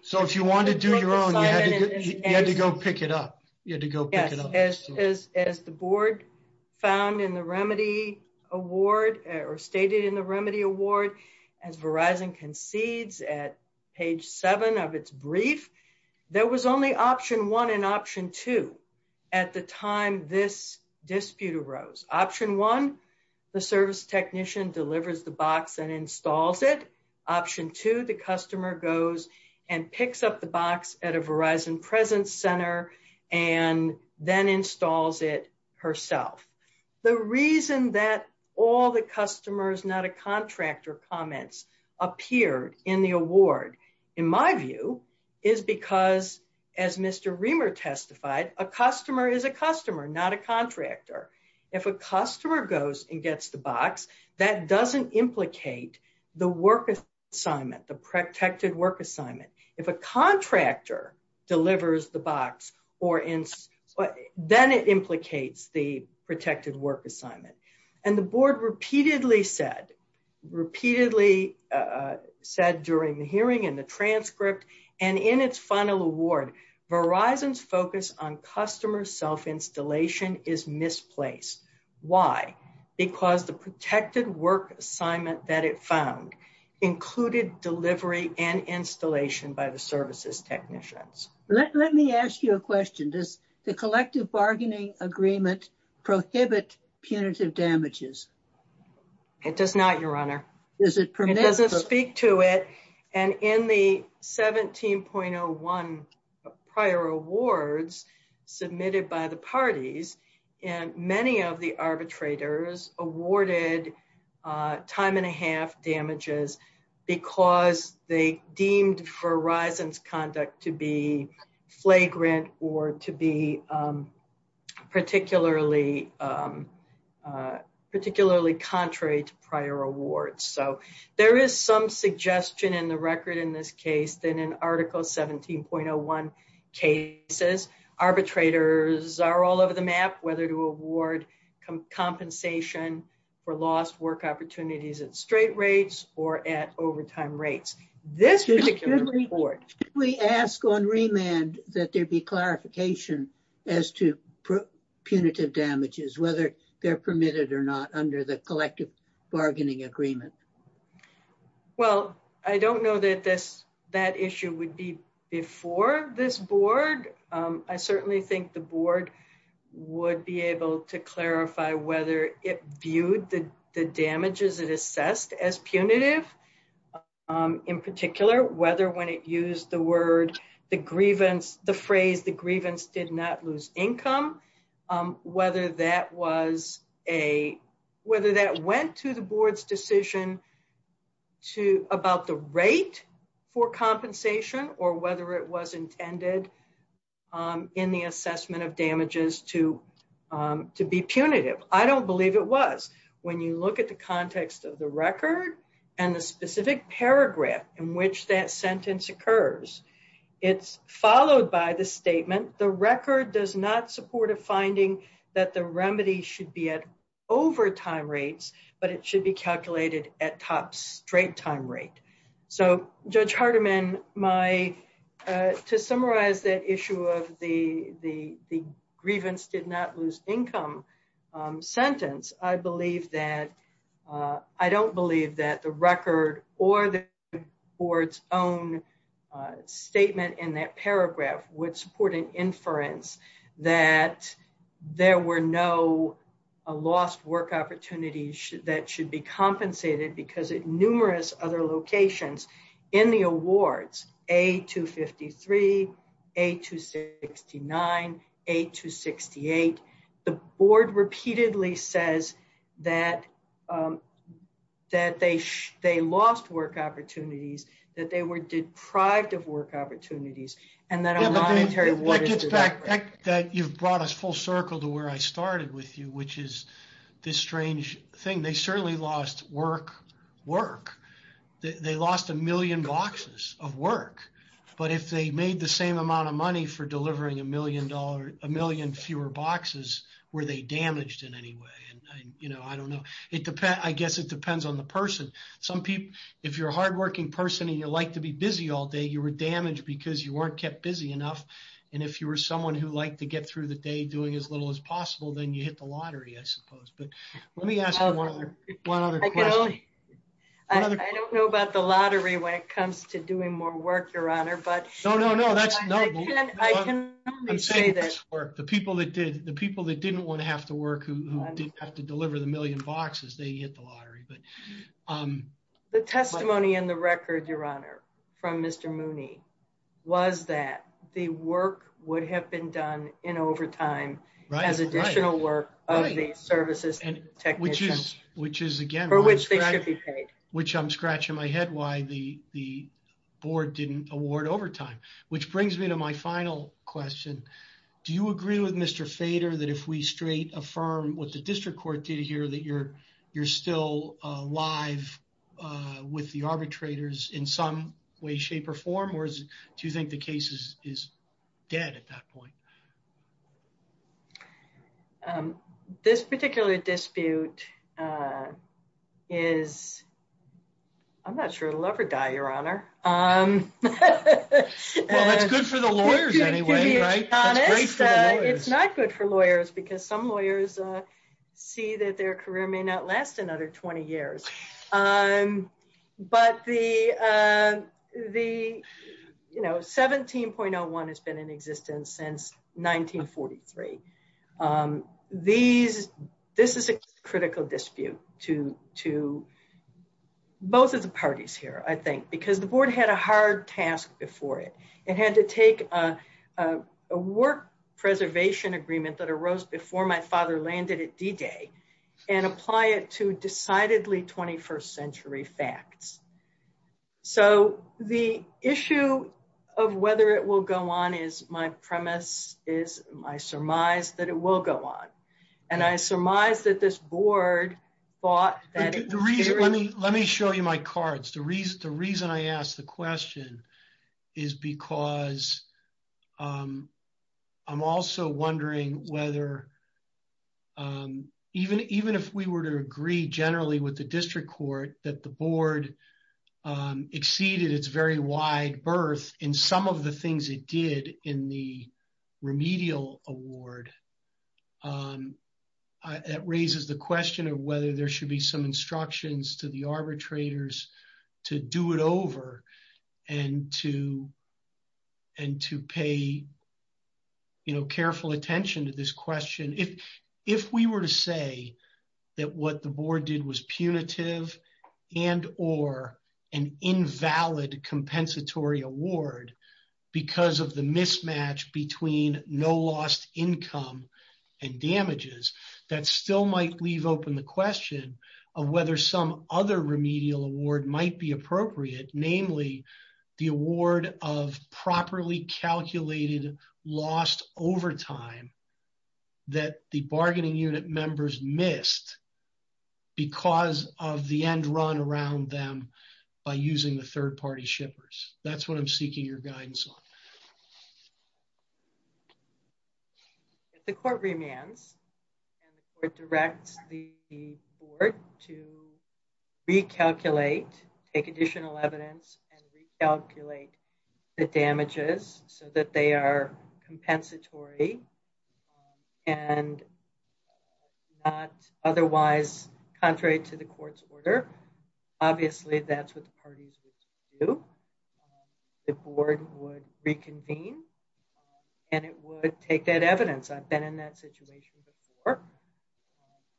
so if you wanted to do your own, you had to go pick it up. You had to go pick it up. Yes. As the board found in the remedy award or stated in the remedy award, as Verizon concedes at page seven of its brief, there was only option one and option two at the time this dispute arose. Option one, the service technician delivers the box and installs it. Option two, the customer goes and picks up the box at a Verizon presence center and then installs it herself. The reason that all the customers, not a contractor comments appeared in the award, in my view, is because as Mr. Reamer testified, a customer is a customer, not a contractor. If a customer goes and gets the box, that doesn't implicate the work assignment, the protected work assignment. If a contractor delivers the box, then it implicates the protected work assignment. And the board repeatedly said, repeatedly said during the hearing and the transcript and in its final award, Verizon's focus on customer self-installation is misplaced. Why? Because the protected work assignment that it found included delivery and installation by the services technicians. Let me ask you a question. Does the collective bargaining agreement prohibit punitive damages? It does not, Your Honor. Does it permit? It doesn't speak to it. And in the 17.01 prior awards submitted by the parties, many of the arbitrators awarded time and a half damages because they deemed Verizon's conduct to be flagrant or to be particularly contrary to prior awards. So, there is some suggestion in the record in this case that in Article 17.01 cases, arbitrators are all over the map whether to award compensation for lost work opportunities at straight rates or at overtime rates. This is a good report. We ask on remand that there be clarification as to punitive damages, whether they're permitted or not under the collective bargaining agreement. Well, I don't know that this, that issue would be before this board. I certainly think the board would be able to clarify whether it viewed the damages it assessed as punitive. In particular, whether when it used the word, the grievance, the phrase, the grievance did not lose income, whether that was a, whether that went to the board's decision to, about the rate for compensation or whether it was intended in the assessment of damages to, to be punitive. I don't believe it was. When you look at the context of the record and the specific paragraph in which that sentence occurs, it's followed by the statement, the record does not support a finding that the remedy should be at overtime rates, but it should be calculated at top straight time rate. So Judge Hardiman, my, to summarize that issue of the, the, the grievance did not lose income sentence, I believe that, I don't believe that the record or the board's own statement in that paragraph would support an inference that there were no lost work opportunities that should be compensated because at numerous other locations in the awards, A-253, A-269, A-268, the board repeatedly says that, that they, they lost work opportunities, that they were deprived of work opportunities, and that a monetary award is a record. That, you've brought us full circle to where I started with you, which is this strange thing. They certainly lost work, work. They lost a million boxes of work, but if they made the same amount of money for delivering a million dollar, a million fewer boxes, were they damaged in any way? And, you know, I don't know. It depends, I guess it depends on the person. Some people, if you're a hardworking person and you like to be busy all day, you were damaged because you weren't kept busy enough. And if you were someone who liked to get through the day doing as little as possible, then you hit the lottery, I suppose. But let me ask one other, one other question. I don't know about the lottery when it comes to doing more work, your honor, but. No, no, no, that's, no. I can only say that. The people that did, the people that didn't want to have to work, who didn't have to deliver the million boxes, they hit the lottery, but. The testimony in the record, your honor, from Mr. Mooney was that the work would have been done in overtime as additional work of the services technicians. Which is, which is again. For which they could be paid. Which I'm scratching my head why the board didn't award overtime. Which brings me to my final question. Do you agree with Mr. Fader that if we straight affirm what the district court did here, that you're still alive with the arbitrators in some way, shape, or form? Or do you think the case is dead at that point? This particular dispute is, I'm not sure it'll ever die, your honor. Well, it's good for the lawyers anyway, right? It's not good for lawyers because some lawyers see that their career may not last another 20 years. But the, you know, 17.01 has been in existence since 1943. These, this is a critical dispute to both of the parties here, I think. Because the board had a hard task before it. It had to take a work preservation agreement that landed at D-Day and apply it to decidedly 21st century facts. So the issue of whether it will go on is my premise, is my surmise, that it will go on. And I surmise that this board thought that Let me show you my cards. The reason I asked the question is because I'm also wondering whether, even if we were to agree generally with the district court, that the board exceeded its very wide berth in some of the things it did in the remedial award. It raises the question of whether there should be some instructions to the arbitrators to do it over and to pay, you know, careful attention to this question. If we were to say that what the board did was punitive and or an invalid compensatory award because of the mismatch between no lost income and damages, that still might leave open the question of whether some other remedial award might be appropriate, namely the award of properly calculated lost overtime that the bargaining unit members missed because of the end run around them by using the third party shippers. That's what I'm seeking your guidance on. If the court remands, and the court directs the board to recalculate, take additional evidence, and recalculate the damages so that they are compensatory and not otherwise contrary to the court's order, obviously that's what the parties would do. The board would reconvene, and it would take that evidence. I've been in that situation before.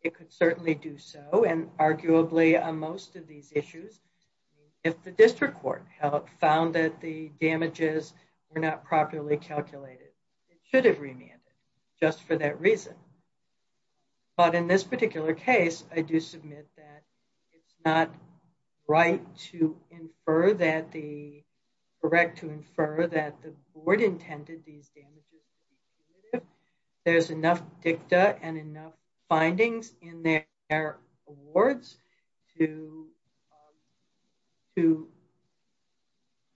It could certainly do so, and arguably on most of these issues, if the district court found that the damages were not properly calculated, it should have remanded just for that reason. But in this particular case, I do submit that it's not right to infer that the, correct to infer that the board intended these damages. There's enough dicta and enough findings in their awards to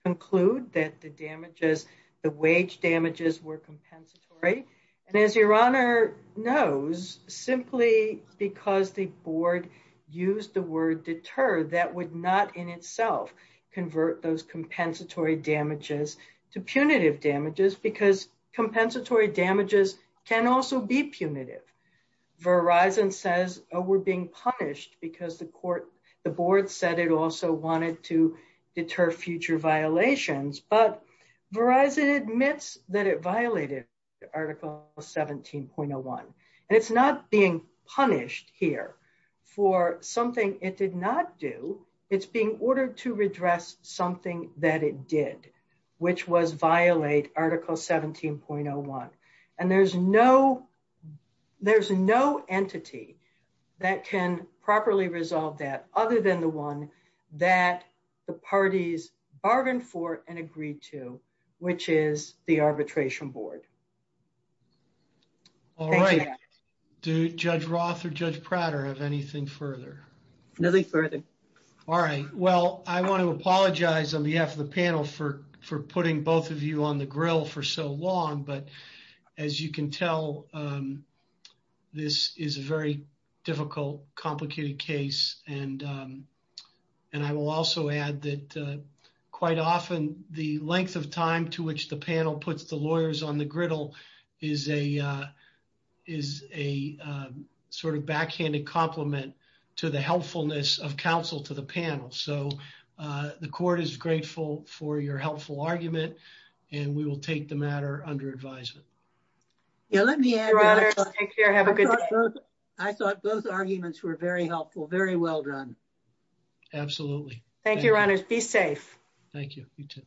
conclude that the damages, the wage damages were compensatory. And as your honor knows, simply because the board used the word deter, that would not in itself convert those compensatory damages to punitive damages, because compensatory damages can also be punitive. Verizon says we're being punished because the court, the board said it also wanted to deter future violations, but Verizon admits that it violated article 17.01. And it's not being which was violate article 17.01. And there's no, there's no entity that can properly resolve that other than the one that the parties bargained for and agreed to, which is the arbitration board. All right. Do Judge Roth or Judge Prater have anything further? Nothing further. All right. Well, I want to apologize on behalf of the panel for putting both of you on the grill for so long, but as you can tell, this is a very difficult, complicated case. And I will also add that quite often the length of time to which the panel puts the lawyers on the griddle is a, is a sort of backhanded compliment to the helpfulness of counsel to the panel. So the court is grateful for your helpful argument and we will take the matter under advisement. Yeah, let me add, I thought both arguments were very helpful, very well done. Absolutely. Thank you, Your Honor. Be safe. Thank you.